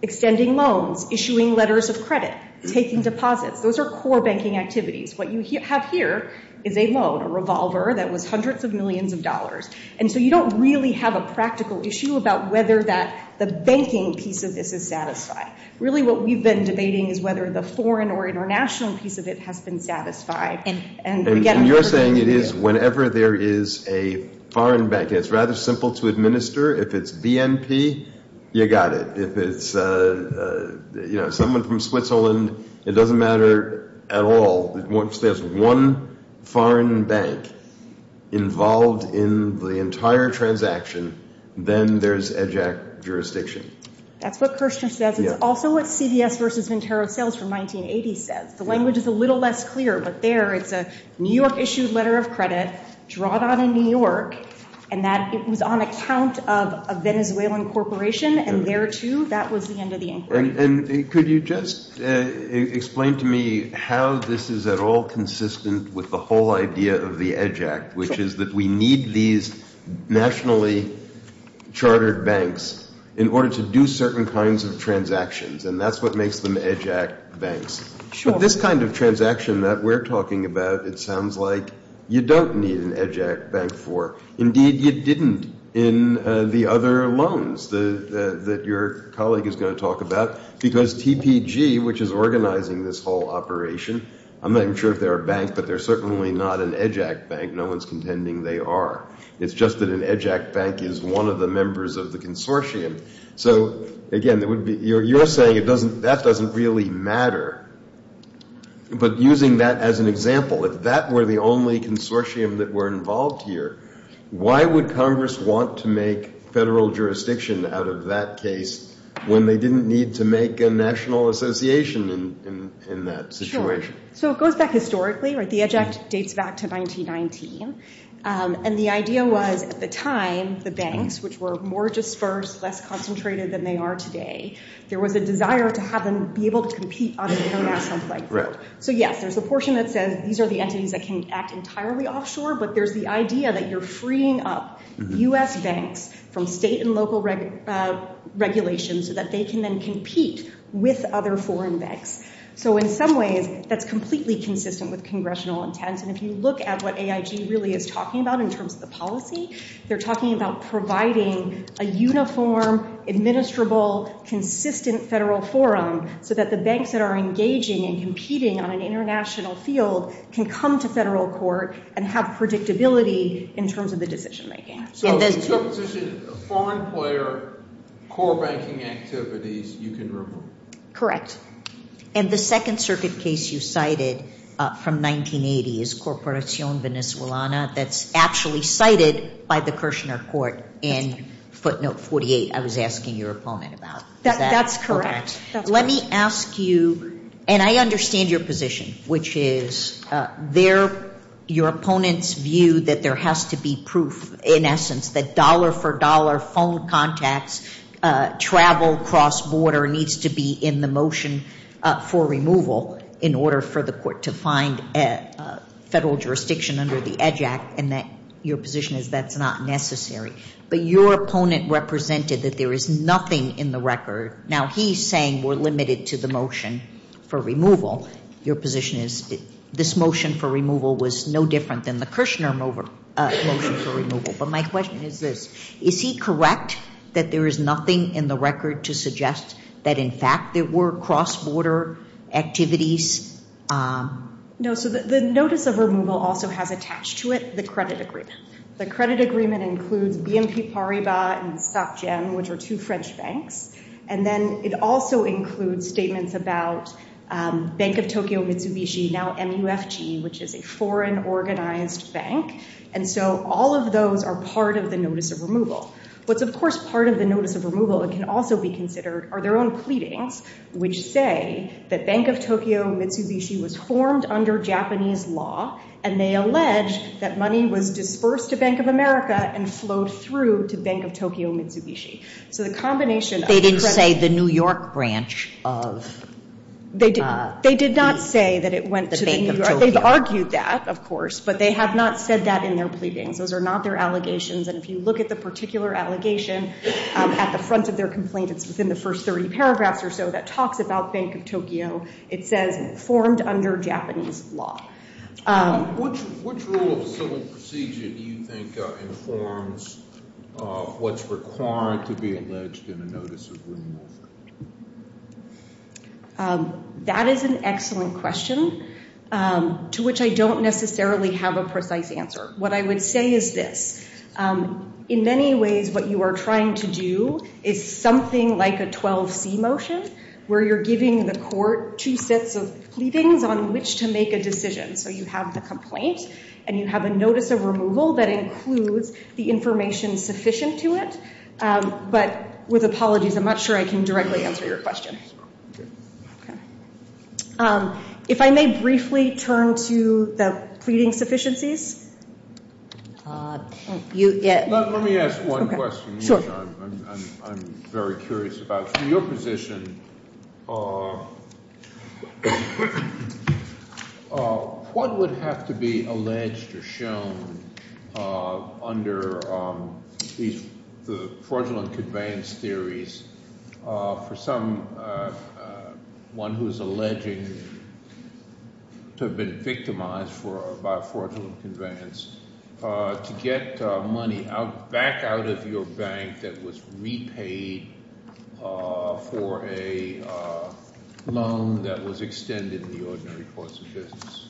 extending loans, issuing letters of credit, taking deposits, those are core banking activities. What you have here is a loan, a revolver that was hundreds of millions of dollars. And so you don't really have a practical issue about whether the banking piece of this is satisfied. Really what we've been debating is whether the foreign or international piece of it has been satisfied. And you're saying it is whenever there is a foreign bank. It's rather simple to administer. If it's BNP, you got it. If it's someone from Switzerland, it doesn't matter at all. Once there's one foreign bank involved in the entire transaction, then there's EJAC jurisdiction. That's what Kirsten said, but also what CBS vs. Intero Sales from 1980 said. The language is a little less clear, but there is a New York-issued letter of credit, drawn out in New York, and that is on account of a Venezuelan corporation, and where to, that was the end of the inquiry. Could you just explain to me how this is at all consistent with the whole idea of the EJAC, which is that we need these nationally chartered banks in order to do certain kinds of transactions, and that's what makes them EJAC banks. This kind of transaction that we're talking about, it sounds like you don't need an EJAC bank for. Indeed, you didn't in the other loans that your colleague is going to talk about, because TPG, which is organizing this whole operation, I'm not even sure if they're a bank, but they're certainly not an EJAC bank. No one's contending they are. It's just that an EJAC bank is one of the members of the consortium. So, again, you're saying that doesn't really matter, but using that as an example, if that were the only consortium that were involved here, why would Congress want to make federal jurisdiction out of that case when they didn't need to make a national association in that situation? Sure. So, it goes back historically, right? The EJAC dates back to 1919, and the idea was at the time, the banks, which were more dispersed, less concentrated than they are today, there was a desire to have them be able to compete on a national site. So, yes, there's a portion that says these are the entities that can act entirely offshore, but there's the idea that you're freeing up U.S. banks from state and local regulations so that they can then compete with other foreign banks. So, in some ways, that's completely consistent with congressional intent, and if you look at what AIG really is talking about in terms of the policy, they're talking about providing a uniform, administrable, consistent federal forum so that the banks that are engaging and competing on an international field can come to federal court and have predictability in terms of the decision-making. So, essentially, foreign player core banking activities you can report? Correct. And the second circuit case you cited from 1980 is Corporacion Venezolana that's actually cited by the Kirshner Court in footnote 48 I was asking you a moment about. That's correct. Let me ask you, and I understand your position, which is your opponent's view that there has to be proof, in essence, that dollar-for-dollar phone contacts, travel cross-border, needs to be in the motion for removal in order for the court to find federal jurisdiction under the EDGE Act, and that your position is that's not necessary. But your opponent represented that there is nothing in the record. Now, he's saying we're limited to the motion for removal. Your position is this motion for removal was no different than the Kirshner motion for removal. But my question is this. Is he correct that there is nothing in the record to suggest that, in fact, there were cross-border activities? No, so the notice of removal also has attached to it the credit agreement. The credit agreement includes BNP Paribas and StopGen, which are two French banks. And then it also includes statements about Bank of Tokyo Mitsubishi, now MUFG, which is a foreign organized bank. And so all of those are part of the notice of removal. But, of course, part of the notice of removal can also be considered are their own pleadings, which say that Bank of Tokyo Mitsubishi was formed under Japanese law, and they allege that money was dispersed to Bank of America and flowed through to Bank of Tokyo Mitsubishi. They didn't say the New York branch of Bank of Tokyo? They did not say that it went to New York. They've argued that, of course, but they have not said that in their pleadings. Those are not their allegations. And if you look at the particular allegation at the front of their complaint, it's in the first 30 paragraphs or so, that talks about Bank of Tokyo. It says formed under Japanese law. What rule of civil procedure do you think informs what's required to be alleged in a notice of removal? That is an excellent question, to which I don't necessarily have a precise answer. What I would say is this. In many ways, what you are trying to do is something like a 12C motion, where you're giving the court two sets of pleadings on which to make a decision. So you have the complaint, and you have a notice of removal that includes the information sufficient to it. But with apologies, I'm not sure I can directly answer your question. If I may briefly turn to the pleading sufficiencies. Let me ask one question. I'm very curious about your position. One would have to be alleged or shown under the fraudulent conveyance theories for someone who is alleging to have been victimized by fraudulent conveyance to get money back out of your bank that was repaid for a loan that was extended in the ordinary course of business.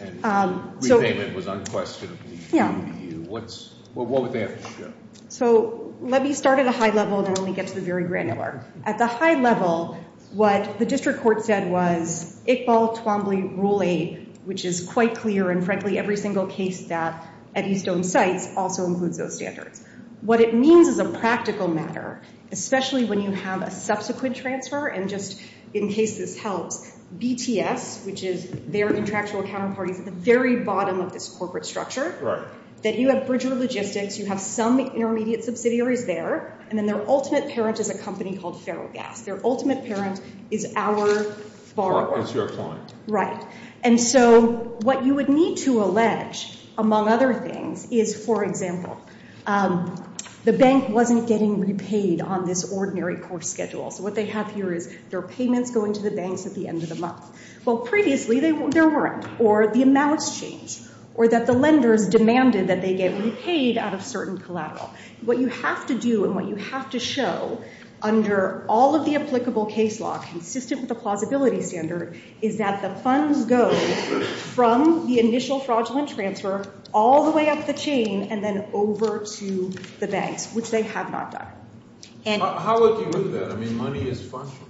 And the repayment was unquestionably due to you. What would that look like? Let me start at a high level, and then I'll get to the very granular. At the high level, what the district court said was, which is quite clear in, frankly, every single case that Eddie Stone cites also includes those standards. What it means is a practical matter, especially when you have a subsequent transfer. And just in case it's held, BTS, which is their contractual account authority, is at the very bottom of this corporate structure. That you have virtual logistics. You have some intermediate subsidiaries there. And then their ultimate parent is a company called Serogas. Their ultimate parent is our borrower. Right. And so what you would need to allege, among other things, is, for example, the bank wasn't getting repaid on this ordinary course schedule. What they have here is their payments go into the banks at the end of the month. Well, previously, there weren't. Or the amounts changed. Or that the lender demanded that they get repaid at a certain collateral. What you have to do, and what you have to show, under all of the applicable case laws consistent with the plausibility standard, is that the funds go from the initial fraudulent transfer all the way up the chain and then over to the banks, which they have not done. How would you look at that? I mean, money is functional.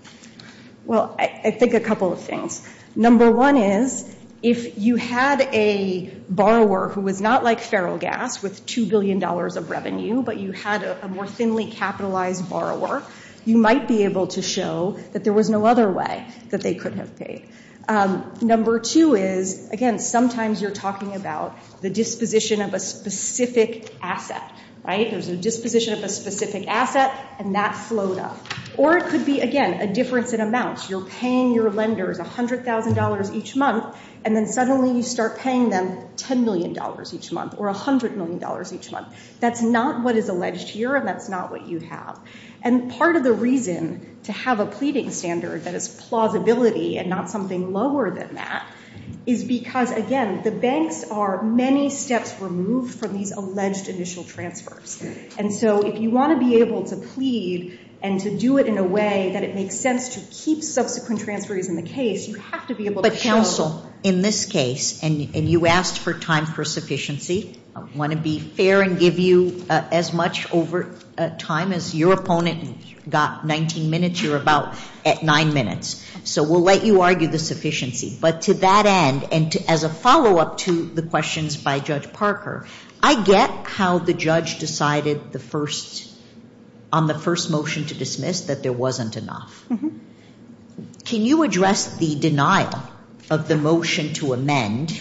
Well, I think a couple of things. Number one is, if you had a borrower who was not like Serogas, with $2 billion of revenue, but you had a more thinly capitalized borrower, you might be able to show that there was no other way that they could have paid. Number two is, again, sometimes you're talking about the disposition of a specific asset. Right? There's a disposition of a specific asset, and that slowed up. Or it could be, again, a difference in amounts. You're paying your lenders $100,000 each month, and then suddenly you start paying them $10 million each month, or $100 million each month. That's not what is alleged here, and that's not what you have. And part of the reason to have a pleading standard that is plausibility and not something lower than that is because, again, the banks are many steps removed from these alleged initial transfers. And so if you want to be able to plead and to do it in a way that it makes sense to keep subsequent transfers in the case, you have to be able to show that. In this case, and you asked for time for sufficiency, I want to be fair and give you as much over time as your opponent got 19 minutes. You're about at nine minutes. So we'll let you argue the sufficiency. But to that end, and as a follow-up to the questions by Judge Parker, I get how the judge decided on the first motion to dismiss that there wasn't enough. Can you address the denial of the motion to amend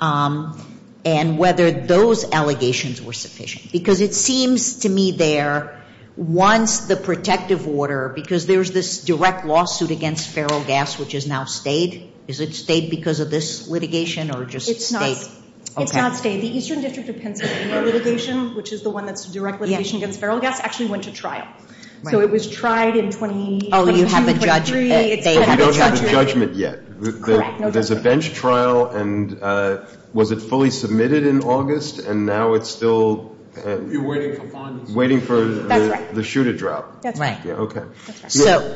and whether those allegations were sufficient? Because it seems to me there, once the protective order, because there's this direct lawsuit against feral gas which has now stayed, is it stayed because of this litigation or just stayed? It's not stayed. The Eastern District of Pennsylvania litigation, which is the one that's a direct litigation against feral gas, actually went to trial. So it was tried in 2018. Oh, you haven't judged it. We don't have a judgment yet. There's a bench trial, and was it fully submitted in August, and now it's still waiting for the shoe to drop? That's right. Okay.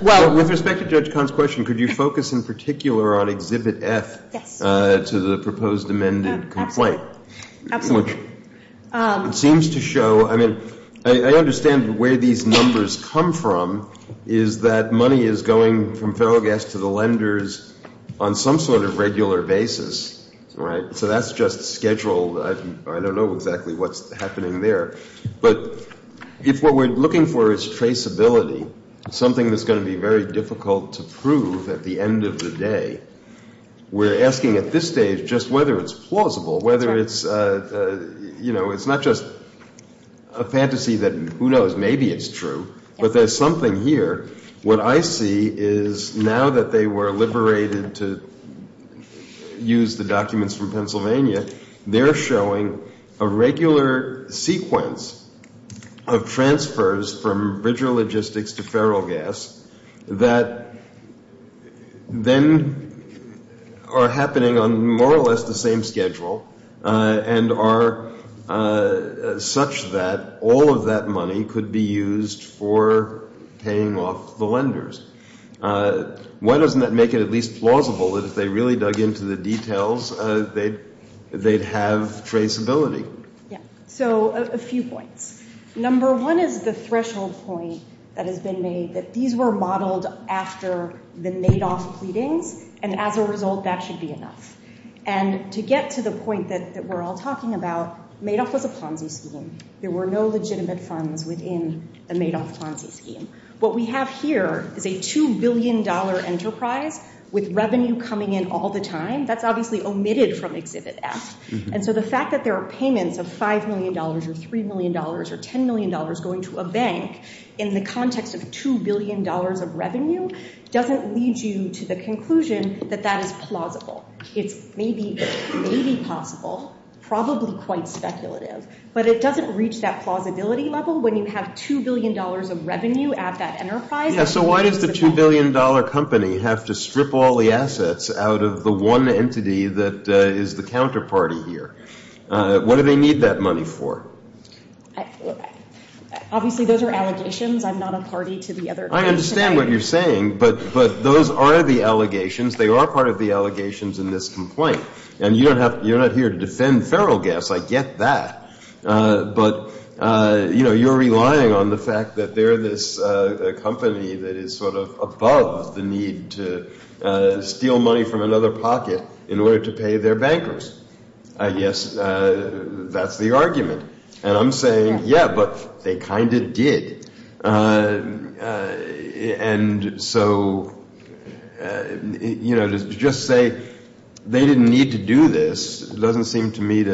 With respect to Judge Kahn's question, could you focus in particular on Exhibit F to the proposed amended complaint? Absolutely. It seems to show, I mean, I understand where these numbers come from, is that money is going from feral gas to the lenders on some sort of regular basis, right? So that's just scheduled. I don't know exactly what's happening there. But if what we're looking for is traceability, something that's going to be very difficult to prove at the end of the day, we're asking at this stage just whether it's plausible, whether it's not just a fantasy that who knows, maybe it's true, but there's something here. What I see is now that they were liberated to use the documents from Pennsylvania, they're showing a regular sequence of transfers from bridge logistics to feral gas that then are happening on more or less the same schedule and are such that all of that money could be used for paying off the lenders. Why doesn't that make it at least plausible that if they really dug into the details, they'd have traceability? Yeah. So a few points. Number one is the threshold point that has been made, that these were modeled after the Madoff pleading, and as a result that should be enough. And to get to the point that we're all talking about, Madoff was a funding scheme. There were no legitimate funds within the Madoff funding scheme. What we have here is a $2 billion enterprise with revenue coming in all the time. That's obviously omitted from Exhibit S. And so the fact that there are payments of $5 million or $3 million or $10 million going to a bank in the context of $2 billion of revenue doesn't lead you to the conclusion that that is plausible. It may be possible, probably quite speculative, but it doesn't reach that plausibility level when you have $2 billion of revenue at that enterprise. Yeah, so why does the $2 billion company have to strip all the assets out of the one entity that is the counterparty here? What do they need that money for? Obviously those are allegations. I'm not a party to the other allegations. I understand what you're saying, but those are the allegations. They are part of the allegations in this complaint. And you're not here to defend Ferrel Gas. I get that. But you're relying on the fact that they're this company that is sort of above the need to steal money from another pocket in order to pay their bankers. I guess that's the argument. And I'm saying, yeah, but they kind of did. And so, you know, to just say they didn't need to do this doesn't seem to me to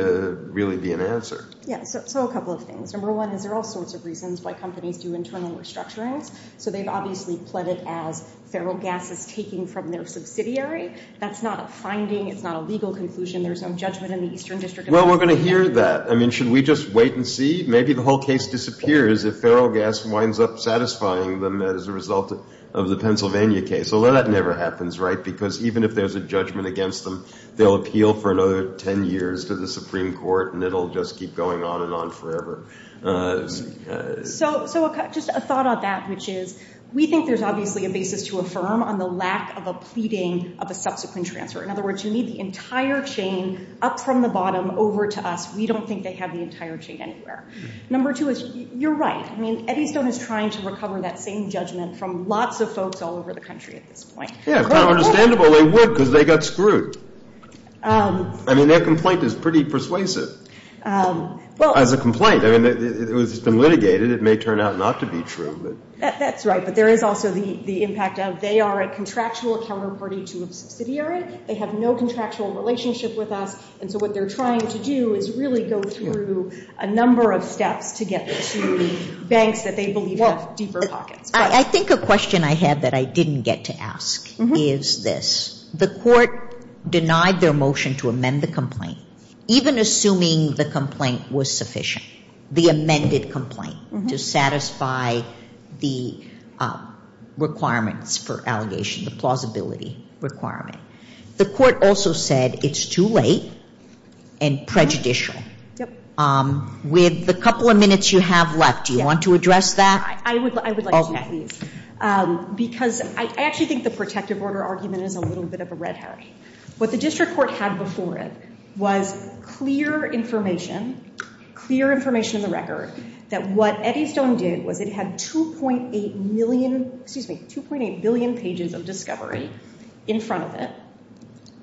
really be an answer. Yeah, so a couple of things. Number one, there are all sorts of reasons why companies do internal restructuring. So they've obviously pled it as Ferrel Gas is taking from their subsidiary. That's not a finding. It's not a legal conclusion. There's some judgment in the Eastern District. Well, we're going to hear that. I mean, should we just wait and see? Maybe the whole case disappears if Ferrel Gas winds up satisfying them as a result of the Pennsylvania case. Well, that never happens, right? Because even if there's a judgment against them, they'll appeal for another 10 years to the Supreme Court and it'll just keep going on and on forever. So just a thought on that, which is, we think there's obviously a basis to affirm on the lack of a pleading of a subsequent transfer. In other words, you need the entire chain up from the bottom over to us. We don't think they have the entire chain anywhere. Number two is, you're right. I mean, Eddystone is trying to recover that same judgment from lots of folks all over the country at this point. Yeah, it's not understandable they would because they got screwed. I mean, their complaint is pretty persuasive. As a complaint, I mean, it was just been litigated. It may turn out not to be true. That's right, but there is also the impact, as they are a contractual counterparty to a subsidiary. They have no contractual relationship with us. And so what they're trying to do is really go through a number of steps to get to the banks that they believe have deeper pockets. I think a question I have that I didn't get to ask is this. The court denied their motion to amend the complaint. Even assuming the complaint was sufficient, the amended complaint, to satisfy the requirements for allegations, the plausibility requirement. The court also said it's too late and prejudicial. With the couple of minutes you have left, do you want to address that? I would like to, because I actually think the protective order argument is a little bit of a red herring. What the district court had before it was clear information, clear information in the records, that what Eddystone did was it had 2.8 million, excuse me, 2.8 billion pages of discovery in front of it.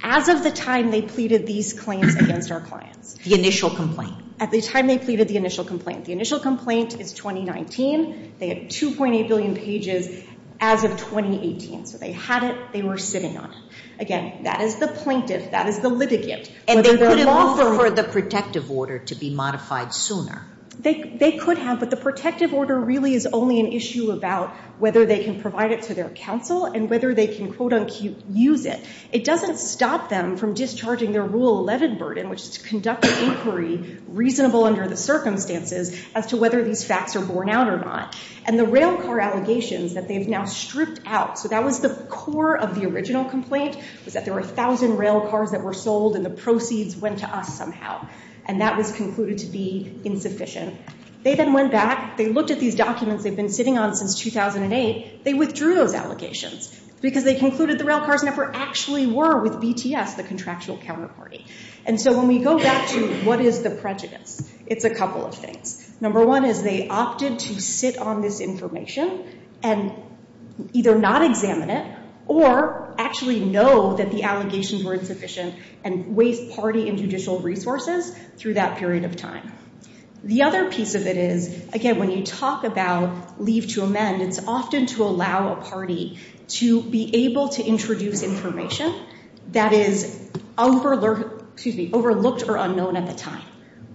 As of the time they pleaded these claims against our client. The initial complaint. At the time they pleaded the initial complaint. The initial complaint is 2019. They had 2.8 billion pages as of 2018. So they had it. They were sitting on it. Again, that is the plaintiff, that is the litigant. And they could have also heard the protective order to be modified sooner. They could have, but the protective order really is only an issue about whether they can provide it to their counsel and whether they can quote-unquote use it. It doesn't stop them from discharging their rule 11 burden, which is to conduct an inquiry reasonable under the circumstances as to whether these facts are borne out or not. And the rail car allegations that they've now stripped out, so that was the core of the original complaint, is that there were 1,000 rail cars that were sold and the proceeds went to us somehow. And that was concluded to be insufficient. They then went back. They looked at these documents they've been sitting on since 2008. They withdrew those allegations because they concluded the rail cars never actually were with BTF, the contractual counterparty. And so when we go back to what is the prejudice, it's a couple of things. Number one is they opted to sit on this information and either not examine it or actually know that the allegations were insufficient and waive party and judicial resources through that period of time. The other piece of it is, again, when you talk about leave to amend, it's often to allow a party to be able to introduce information that is overlooked or unknown at the time.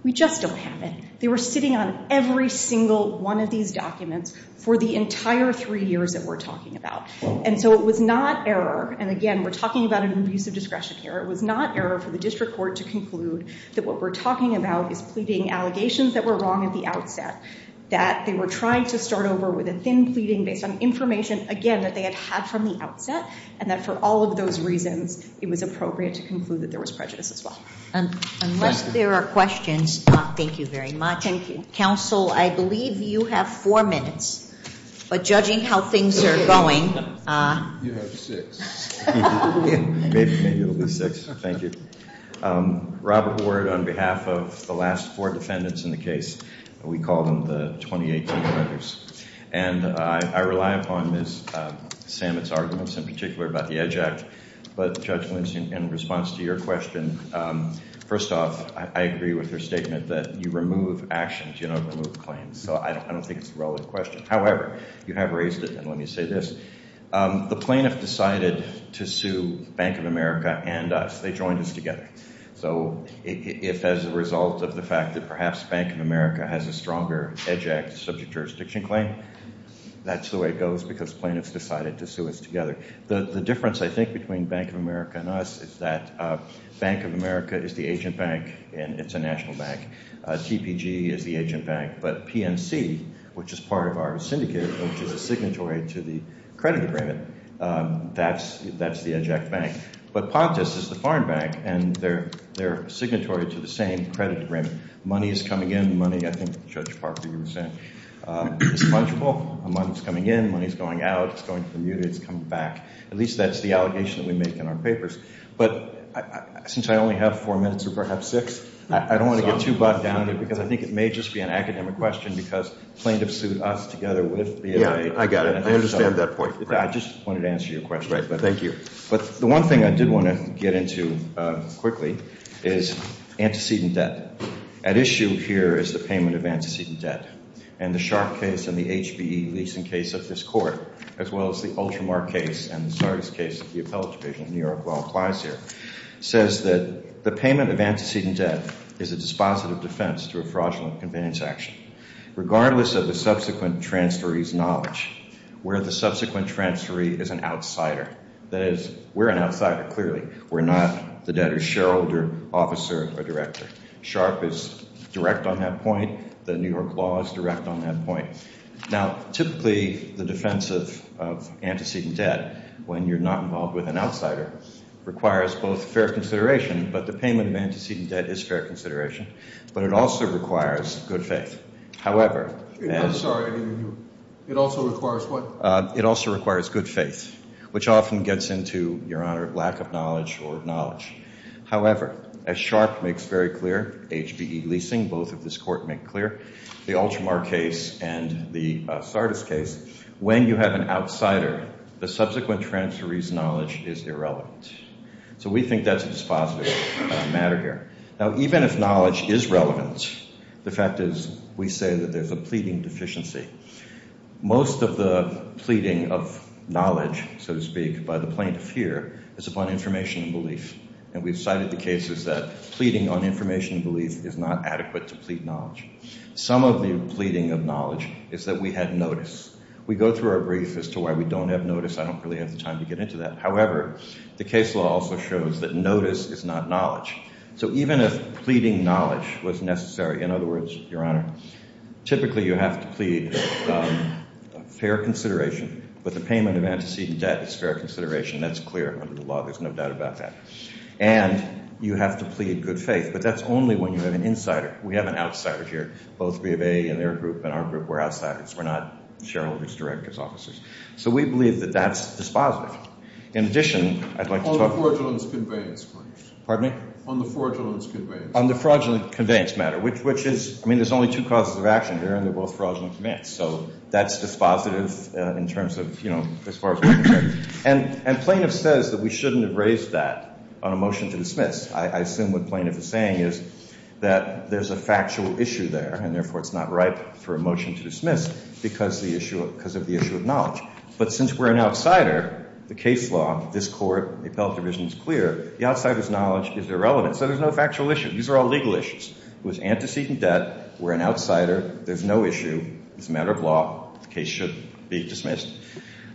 We just don't have it. They were sitting on every single one of these documents for the entire three years that we're talking about. And so it was not error, and again, we're talking about a new use of discretion here, it was not error for the district court to conclude that what we're talking about is pleading allegations that were wrong at the outset, that they were trying to start over with a thin pleading based on information, again, that they had had from the outset, and that for all of those reasons, it was appropriate to conclude that there was prejudice as well. Unless there are questions, thank you very much. Thank you. Counsel, I believe you have four minutes. Judging how things are going. You have six. Thank you. Robert Ward, on behalf of the last four defendants in the case, we call them the 28 defendants, and I rely upon Ms. Samet's arguments in particular about the EDGE Act, but Judge Winston, in response to your question, first off, I agree with her statement that you remove actions, you don't remove claims. So I don't think it's a relevant question. However, you have raised it, and let me say this. The plaintiff decided to sue Bank of America and us. They joined us together. So if as a result of the fact that perhaps Bank of America has a stronger EDGE Act subject jurisdiction claim, that's the way it goes because plaintiffs decided to sue us together. The difference, I think, between Bank of America and us is that Bank of America is the agent bank, and it's a national bank. TPG is the agent bank. But PNC, which is part of our syndicate, which is a signatory to the credit agreement, that's the EDGE Act bank. But POTUS is the foreign bank, and they're signatory to the same credit agreement. Money is coming in. The money, I think, Judge Parker, you were saying, is fungible. Money is coming in. Money is going out. It's going from you. It's coming back. At least that's the allegation that we make in our papers. But since I only have four minutes or perhaps six, I don't want to get too bogged down, because I think it may just be an academic question because plaintiffs sued us together with the NIH. Yeah, I got it. I understand that point. I just wanted to answer your question. Thank you. But the one thing I did want to get into quickly is antecedent debt. At issue here is the payment of antecedent debt and the Sharpe case and the HPE leasing case of this court as well as the Ultramar case and the Sardis case of the appellate division in New York law applies here, says that the payment of antecedent debt is a dispositive defense through a fraudulent convenience action. Regardless of the subsequent transferee's knowledge, we're the subsequent transferee as an outsider. That is, we're an outsider, clearly. We're not the debtor's shareholder, officer, or director. The New York law is direct on that point. Now, typically, the defense of antecedent debt, when you're not involved with an outsider, requires both fair consideration, but the payment of antecedent debt is fair consideration, but it also requires good faith. It also requires good faith, which often gets into your lack of knowledge or knowledge. However, as Sharpe makes very clear, HPE leasing, both of this court make clear, the Ultramar case and the Sardis case, when you have an outsider, the subsequent transferee's knowledge is irrelevant. So we think that's a dispositive matter here. Now, even if knowledge is relevant, the fact is we say that there's a pleading deficiency. Most of the pleading of knowledge, so to speak, by the plaintiff here is upon information and belief, and we've cited the cases that pleading on information and belief is not adequate to plead knowledge. Some of the pleading of knowledge is that we have notice. We go through our brief as to why we don't have notice. I don't really have time to get into that. However, the case law also shows that notice is not knowledge. So even if pleading knowledge was necessary, in other words, Your Honor, typically you have to plead fair consideration, but the payment of antecedent debt is fair consideration. That's clear under the law. There's no doubt about that. And you have to plead good faith, but that's only when you're an insider. We have an outsider here, both B of A and their group, and our group, we're outsiders. We're not shareholders, directors, officers. So we believe that that's dispositive. In addition, I'd like to talk about... On the fraudulent conveyance matter. Pardon me? On the fraudulent conveyance matter. On the fraudulent conveyance matter, which is... I mean, there's only two causes of action here, and they're both fraudulent conveyance, so that's dispositive in terms of, you know, as far as we're concerned. And plaintiff says that we shouldn't have raised that on a motion to dismiss. I assume what plaintiff is saying is that there's a factual issue there, and therefore it's not right for a motion to dismiss because of the issue of knowledge. But since we're an outsider, the case law, this court, the appellate division is clear. The outsider's knowledge is irrelevant, so there's no factual issue. These are all legal issues. It was antecedent debt. We're an outsider. There's no issue. It's a matter of law. The case should be dismissed.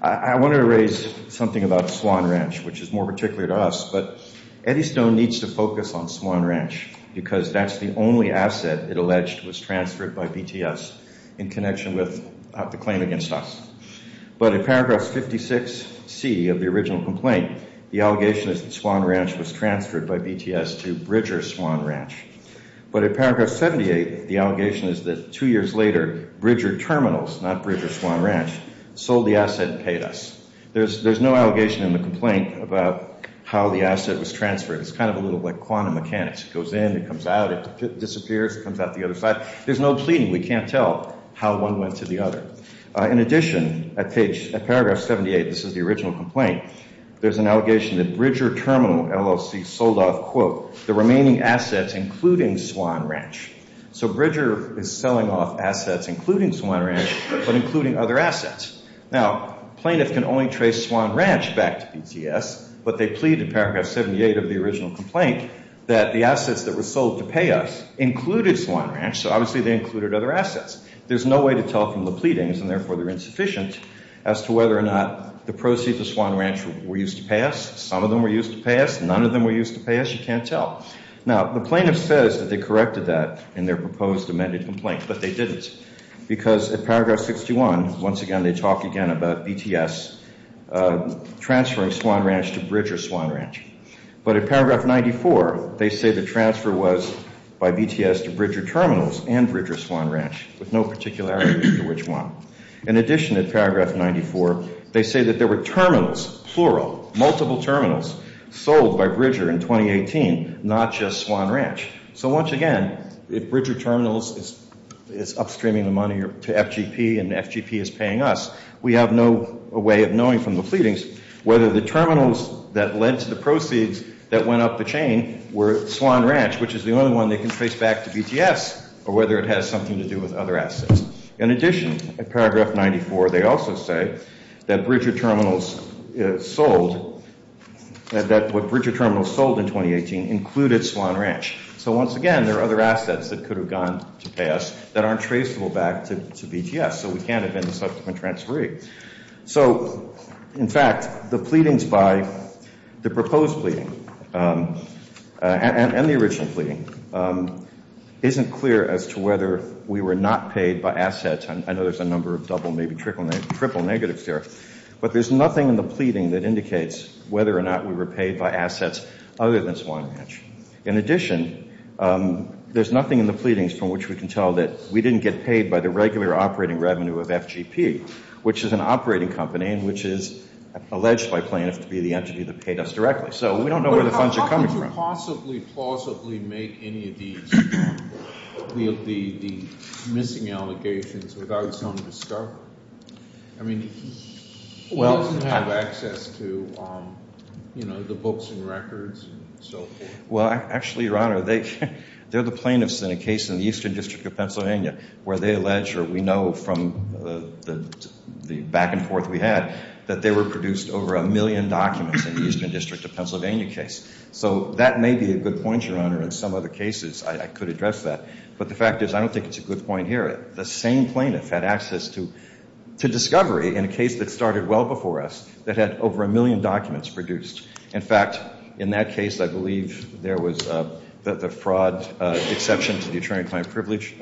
I want to raise something about Swan Ranch, which is more particular to us, but Eddystone needs to focus on Swan Ranch because that's the only asset it alleged was transferred by BTS in connection with the claim against us. But in paragraph 56C of the original complaint, the allegation is that Swan Ranch was transferred by BTS to Bridger Swan Ranch. But in paragraph 78, the allegation is that two years later, Bridger Terminals, not Bridger Swan Ranch, sold the asset and paid us. There's no allegation in the complaint about how the asset was transferred. It's kind of a little like quantum mechanics. It goes in, it comes out, it disappears, comes out the other side. There's no pleading. We can't tell how one went to the other. In addition, at paragraph 78, this is the original complaint, there's an allegation that Bridger Terminal LLC sold off, quote, the remaining assets, including Swan Ranch. So Bridger is selling off assets, including Swan Ranch, but including other assets. Now, plaintiff can only trace Swan Ranch back to BTS, but they plead in paragraph 78 of the original complaint that the assets that were sold to pay us included Swan Ranch, so obviously they included other assets. There's no way to tell from the pleadings, and therefore they're insufficient, as to whether or not the proceeds of Swan Ranch were used to pay us. Some of them were used to pay us. None of them were used to pay us. You can't tell. Now, the plaintiff says that they corrected that in their proposed amended complaint, but they didn't. Because at paragraph 61, once again, they talk again about BTS transferring Swan Ranch to Bridger Swan Ranch. But at paragraph 94, they say the transfer was by BTS to Bridger Terminals and Bridger Swan Ranch, with no particularity to which one. In addition, at paragraph 94, they say that there were terminals, plural, multiple terminals, sold by Bridger in 2018, not just Swan Ranch. So once again, if Bridger Terminals is upstreaming the money to FGP and FGP is paying us, we have no way of knowing from the pleadings whether the terminals that led to the proceeds that went up the chain were Swan Ranch, which is the only one they can trace back to BTS, or whether it has something to do with other assets. In addition, at paragraph 94, they also say that what Bridger Terminals sold in 2018 included Swan Ranch. So once again, there are other assets that could have gone to pass that aren't traceable back to BTS, so we can't have been the subsequent transferee. So, in fact, the pleadings by the proposed pleading and the original pleading isn't clear as to whether we were not paid by assets. I know there's a number of double, maybe triple negatives here. But there's nothing in the pleading that indicates whether or not we were paid by assets other than Swan Ranch. In addition, there's nothing in the pleadings from which we can tell that we didn't get paid by the regular operating revenue of FGP, which is an operating company and which is alleged by plaintiff to be the entity that paid us directly. So we don't know where the funds are coming from. How could you possibly, falsely make any of these with the missing allegations without some discovery? I mean, who doesn't have access to the books and records and so forth? Well, actually, Your Honor, they're the plaintiffs in a case in the Eastern District of Pennsylvania where they allege, or we know from the back and forth we had, that they were produced over a million documents in the Eastern District of Pennsylvania case. So that may be a good point, Your Honor. In some other cases, I could address that. But the fact is, I don't think it's a good point here. The same plaintiff had access to discovery in a case that started well before us that had over a million documents produced. In fact, in that case, I believe there was the fraud exception to the attorney-client privilege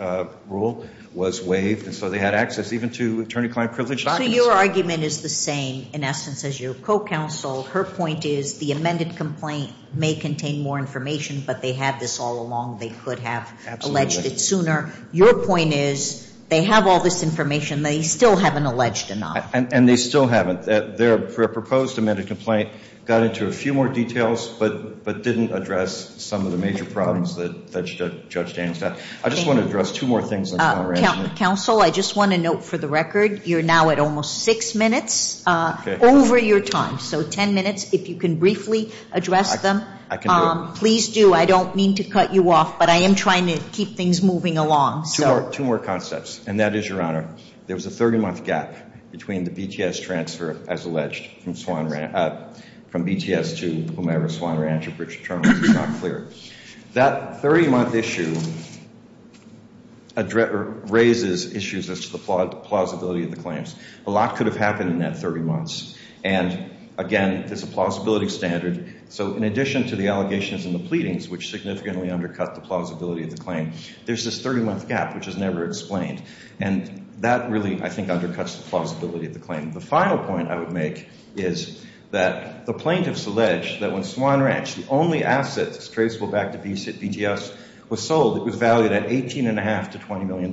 rule was waived, so they had access even to attorney-client privilege documents. So your argument is the same, in essence, as your co-counsel. Her point is, the amended complaint may contain more information, but they have this all along. They could have alleged it sooner. Your point is, they have all this information. They still haven't alleged enough. And they still haven't. Their proposed amended complaint got into a few more details, but didn't address some of the major problems that Judge Danes had. I just want to address two more things. Counsel, I just want to note for the record, you're now at almost six minutes over your time. So ten minutes, if you can briefly address them. I can do it. Please do. I don't mean to cut you off, but I am trying to keep things moving along. Two more concepts, and that is, Your Honor, there was a 30-month gap between the BTS transfer, as alleged, from BTS to Omara Swan Ranch, which is not clear. That 30-month issue raises issues as to the plausibility of the claims. A lot could have happened in that 30 months. And, again, it's a plausibility standard. So in addition to the allegations and the pleadings, which significantly undercut the plausibility of the claim, there's this 30-month gap, which is never explained. And that really, I think, undercuts the plausibility of the claim. The final point I would make is that the plaintiffs allege that when Swan Ranch, the only asset traceable back to BTS, was sold, it was valued at $18.5 to $20 million.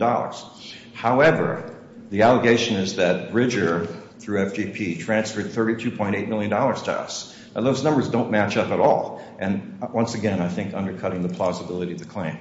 However, the allegation is that Bridger, through FGP, transferred $32.8 million to us. And those numbers don't match up at all. And, once again, I think undercutting the plausibility of the claim.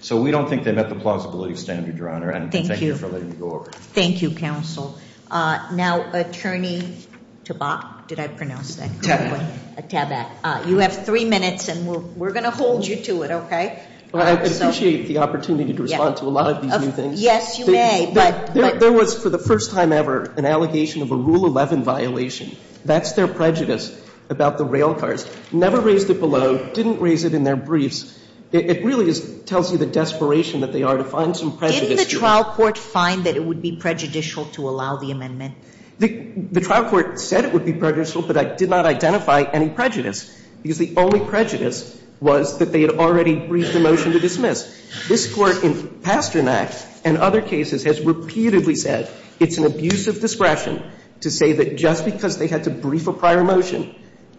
So we don't think they met the plausibility standard, Your Honor. Thank you. Thank you, counsel. Now, Attorney Tabak. Did I pronounce that correctly? Tabak. You have three minutes, and we're going to hold you to it, okay? Well, I appreciate the opportunity to respond to a lot of these new things. Yes, you may. There was, for the first time ever, an allegation of a Rule 11 violation. That's their prejudice about the rail cars. Never raised it below. Didn't raise it in their briefs. It really tells you the desperation that they are to find some prejudice. Didn't the trial court find that it would be prejudicial to allow the amendment? The trial court said it would be prejudicial, but it did not identify any prejudice. Because the only prejudice was that they had already briefed a motion to dismiss. This court, in Pasternak and other cases, has repeatedly said it's an abusive discretion to say that just because they had to brief a prior motion,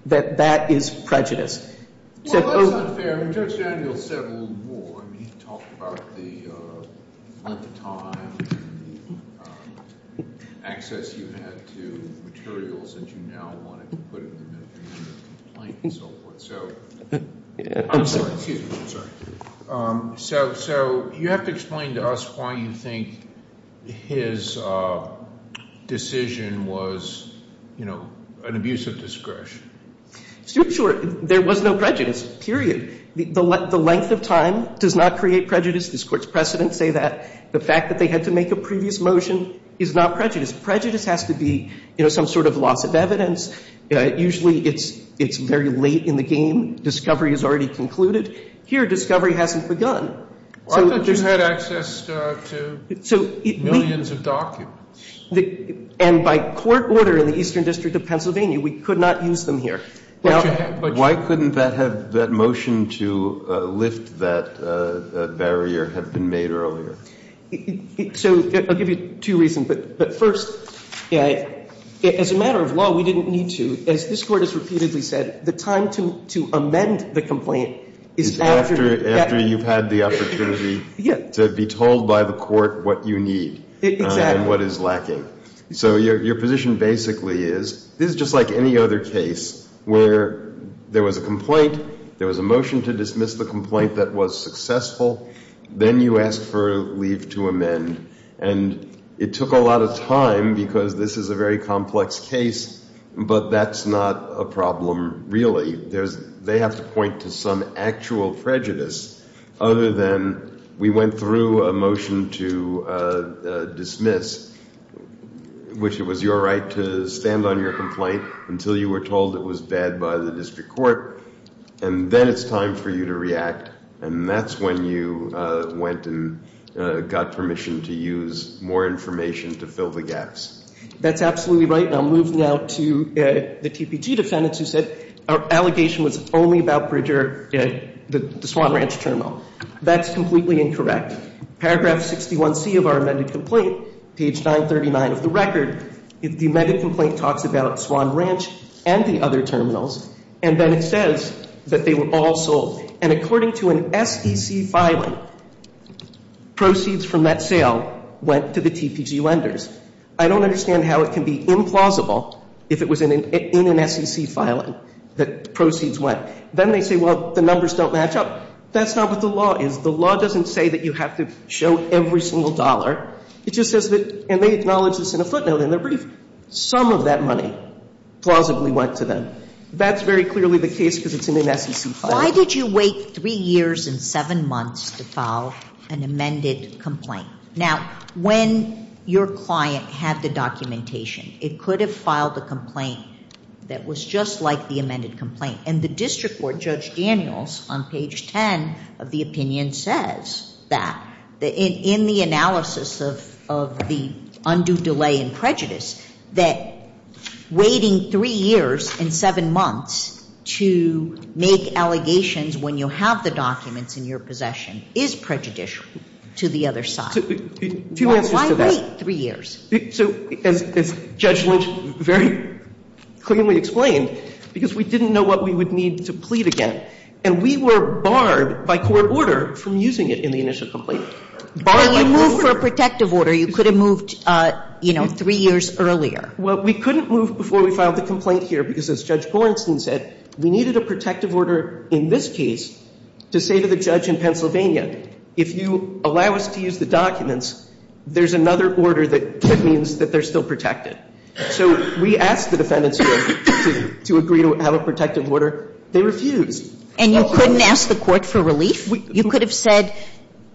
that that is prejudice. Well, that's not fair. I mean, Judge Daniels said it a little more. He talked about the length of time and the access you had to materials that you now wanted to put in. So, you have to explain to us why you think his decision was an abusive discretion. Sure, sure. There was no prejudice. Period. The length of time does not create prejudice. This court's precedent say that. The fact that they had to make a previous motion is not prejudice. Prejudice has to be some sort of loss of evidence. Usually, it's very late in the game. Discovery is already concluded. Here, discovery hasn't begun. I thought you had access to millions of documents. And by court order in the Eastern District of Pennsylvania, we could not use them here. But why couldn't that motion to lift that barrier have been made earlier? So, I'll give you two reasons. But first, as a matter of law, we didn't need to. As this court has repeatedly said, the time to amend the complaint is after... After you've had the opportunity to be told by the court what you need and what is lacking. So, your position basically is, this is just like any other case where there was a complaint, there was a motion to dismiss the complaint that was successful, then you ask for leave to amend. And it took a lot of time because this is a very complex case, but that's not a problem, really. They have to point to some actual prejudice other than we went through a motion to dismiss, which it was your right to stand on your complaint until you were told it was bad by the district court, and then it's time for you to react. And that's when you went and got permission to use more information to fill the gaps. That's absolutely right, and I'll move now to the TPG defendants who said our allegation was only about Bridger, the Swan Ranch terminal. That's completely incorrect. Paragraph 61C of our amended complaint, page 939 of the record, the amended complaint talks about Swan Ranch and the other terminals, and then it says that they were all sold. And according to an SEC filing, proceeds from that sale went to the TPG lenders. I don't understand how it can be implausible if it was in an SEC filing that proceeds went. Then they say, well, the numbers don't match up. That's not what the law is. The law doesn't say that you have to show every single dollar. It just says that they acknowledge it's in a footnote, and some of that money plausibly went to them. That's very clearly the case that it's in an SEC filing. Why did you wait three years and seven months to file an amended complaint? Now, when your client had the documentation, it could have filed a complaint that was just like the amended complaint, and the district court, Judge Daniels, on page 10 of the opinion says that in the analysis of the undue delay in prejudice, that waiting three years and seven months to make allegations when you have the documents in your possession is prejudicial to the other side. Why wait three years? As Judge Lynch very clearly explained, because we didn't know what we would need to plead again, and we were barred by court order from using it in the initial complaint. Barred by court order. You moved for a protective order. You could have moved three years earlier. Well, we couldn't move before we filed the complaint here, because as Judge Gorenstein said, we needed a protective order in this case to say to the judge in Pennsylvania, if you allow us to use the documents, there's another order that means that they're still protected. So we asked the defendants here to agree to have a protective order. They refused. And you couldn't ask the court for relief? You could have said,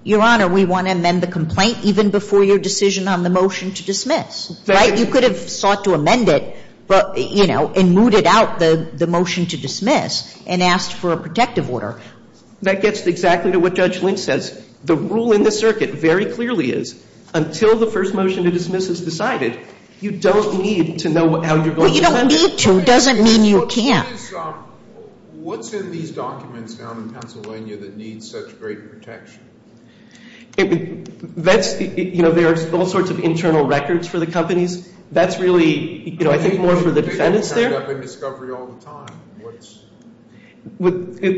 Your Honor, we want to amend the complaint even before your decision on the motion to dismiss. Right? You could have sought to amend it, and mooted out the motion to dismiss and asked for a protective order. That gets exactly to what Judge Lynch says. The rule in the circuit very clearly is until the first motion to dismiss is decided, you don't need to know how you're going to do it. Well, you don't need to. It doesn't mean you can't. What's in these documents down in Pennsylvania that needs such great protection? There are all sorts of internal records for the companies. That's really, I think, more for the defendants there.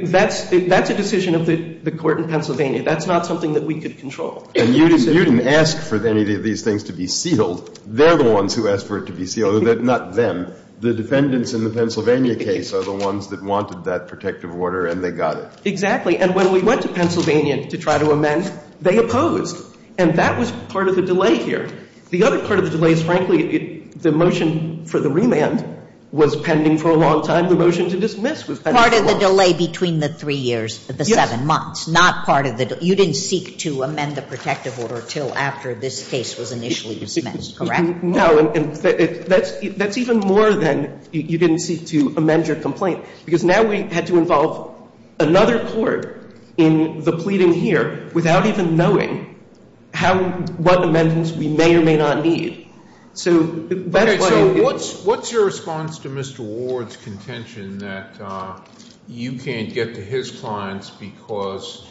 That's a decision of the court in Pennsylvania. That's not something that we could control. You didn't ask for any of these things to be sealed. They're the ones who asked for it to be sealed, not them. The defendants in the Pennsylvania case are the ones that wanted that protective order, and they got it. Exactly. And when we went to Pennsylvania to try to amend, they opposed. And that was part of the delay here. The other part of the delay is, frankly, the motion for the remand was pending for a long time. The motion to dismiss was pending for a long time. Part of the delay between the three years to the seven months. Not part of the delay. You didn't seek to amend the protective order until after this case was initially dismissed, correct? No. That's even more than you didn't seek to amend your complaint. Because now we had to involve another court in the pleading here without even knowing what amendments we may or may not need. So what's your response to Mr. Ward's contention that you can't get to his clients because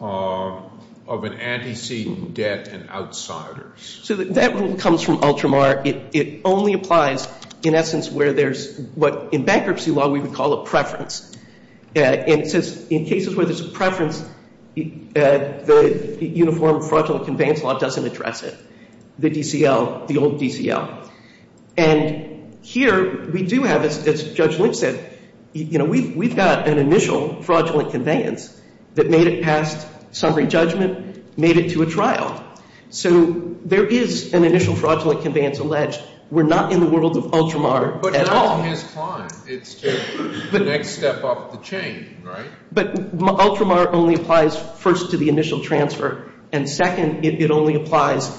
of an antecedent debt and outsiders? So that really comes from Ultramar. It only applies, in essence, where there's what, in bankruptcy law, we would call a preference. In cases where there's a preference, the Uniform Fraudulent Conveyance Law doesn't address it. The DCL, the old DCL. And here, we do have, as Judge Lipsett said, we've got an initial fraudulent conveyance that made it past summary judgment, made it to a trial. So there is an initial fraudulent conveyance alleged. We're not in the world of Ultramar at all. But now it's gone. It's the next step up the chain, right? But Ultramar only applies, first, to the initial transfer. And second, it only applies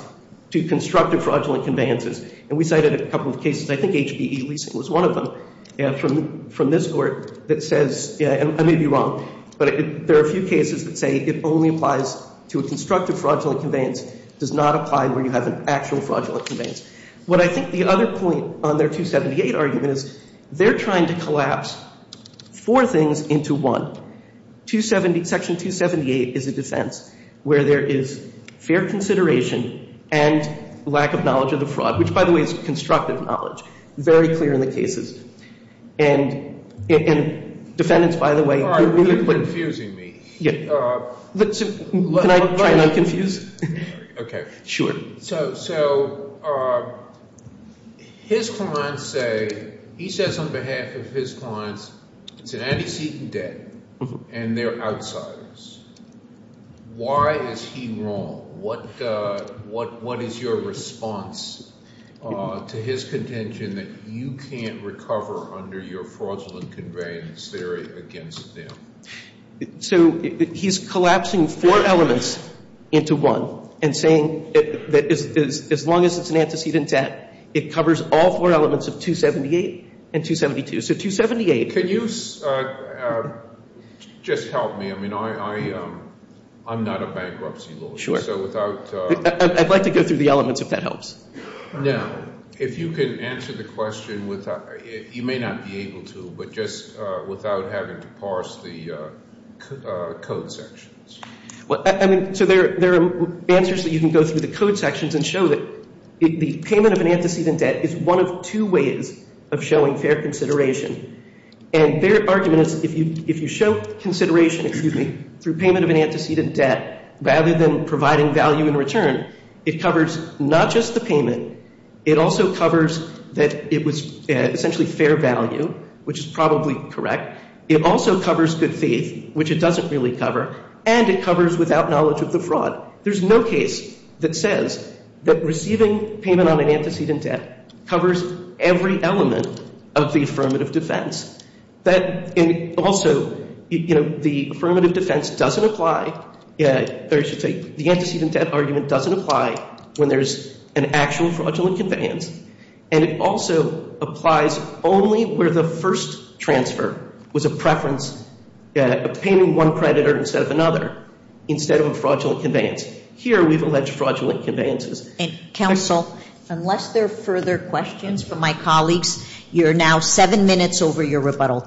to constructive fraudulent conveyances. And we cited a couple of cases. I think HPE was one of them, from this work, that says, yeah, I may be wrong. But there are a few cases that say it only applies to a constructive fraudulent conveyance. It does not apply where you have an actual fraudulent conveyance. What I think the other point on their 278 argument is they're trying to collapse four things into one. Section 278 is a defense, where there is fair consideration and lack of knowledge of the fraud. Which, by the way, is constructive knowledge. Very clear in the cases. And defendants, by the way, can really put it. You're confusing me. Yeah. But I'm confused. OK. Sure. So his clients say, he says on behalf of his clients, today he's seeking debt. And they're outsiders. Why is he wrong? What is your response to his contention that you can't recover under your fraudulent conveyance against him? So he's collapsing four elements into one and saying that as long as it's an antecedent debt, it covers all four elements of 278 and 272. So 278. Can you just help me? I mean, I'm not a bankruptcy lawyer. Sure. I'd like to go through the elements, if that helps. Now, if you can answer the question without, you may not be able to, but just without having to parse the code sections. I mean, so there are answers that you can go through the code sections and show that the payment of an antecedent debt is one of two ways of showing fair consideration. And their argument is, if you show consideration, excuse me, for payment of an antecedent debt, rather than providing value in return, it covers not just the payment. It also covers that it was essentially fair value, which is probably correct. It also covers the fee, which it doesn't really cover. And it covers without knowledge of the fraud. There's no case that says that receiving payment on an antecedent debt covers every element of the affirmative defense. Also, the affirmative defense doesn't apply. The antecedent debt argument doesn't apply when there's an actual fraudulent conveyance. And it also applies only where the first transfer was a preference of paying one creditor instead of another, instead of a fraudulent conveyance. Here, we've alleged fraudulent conveyances. Thank you, counsel. Unless there are further questions from my colleagues, you're now seven minutes over your rebuttal time.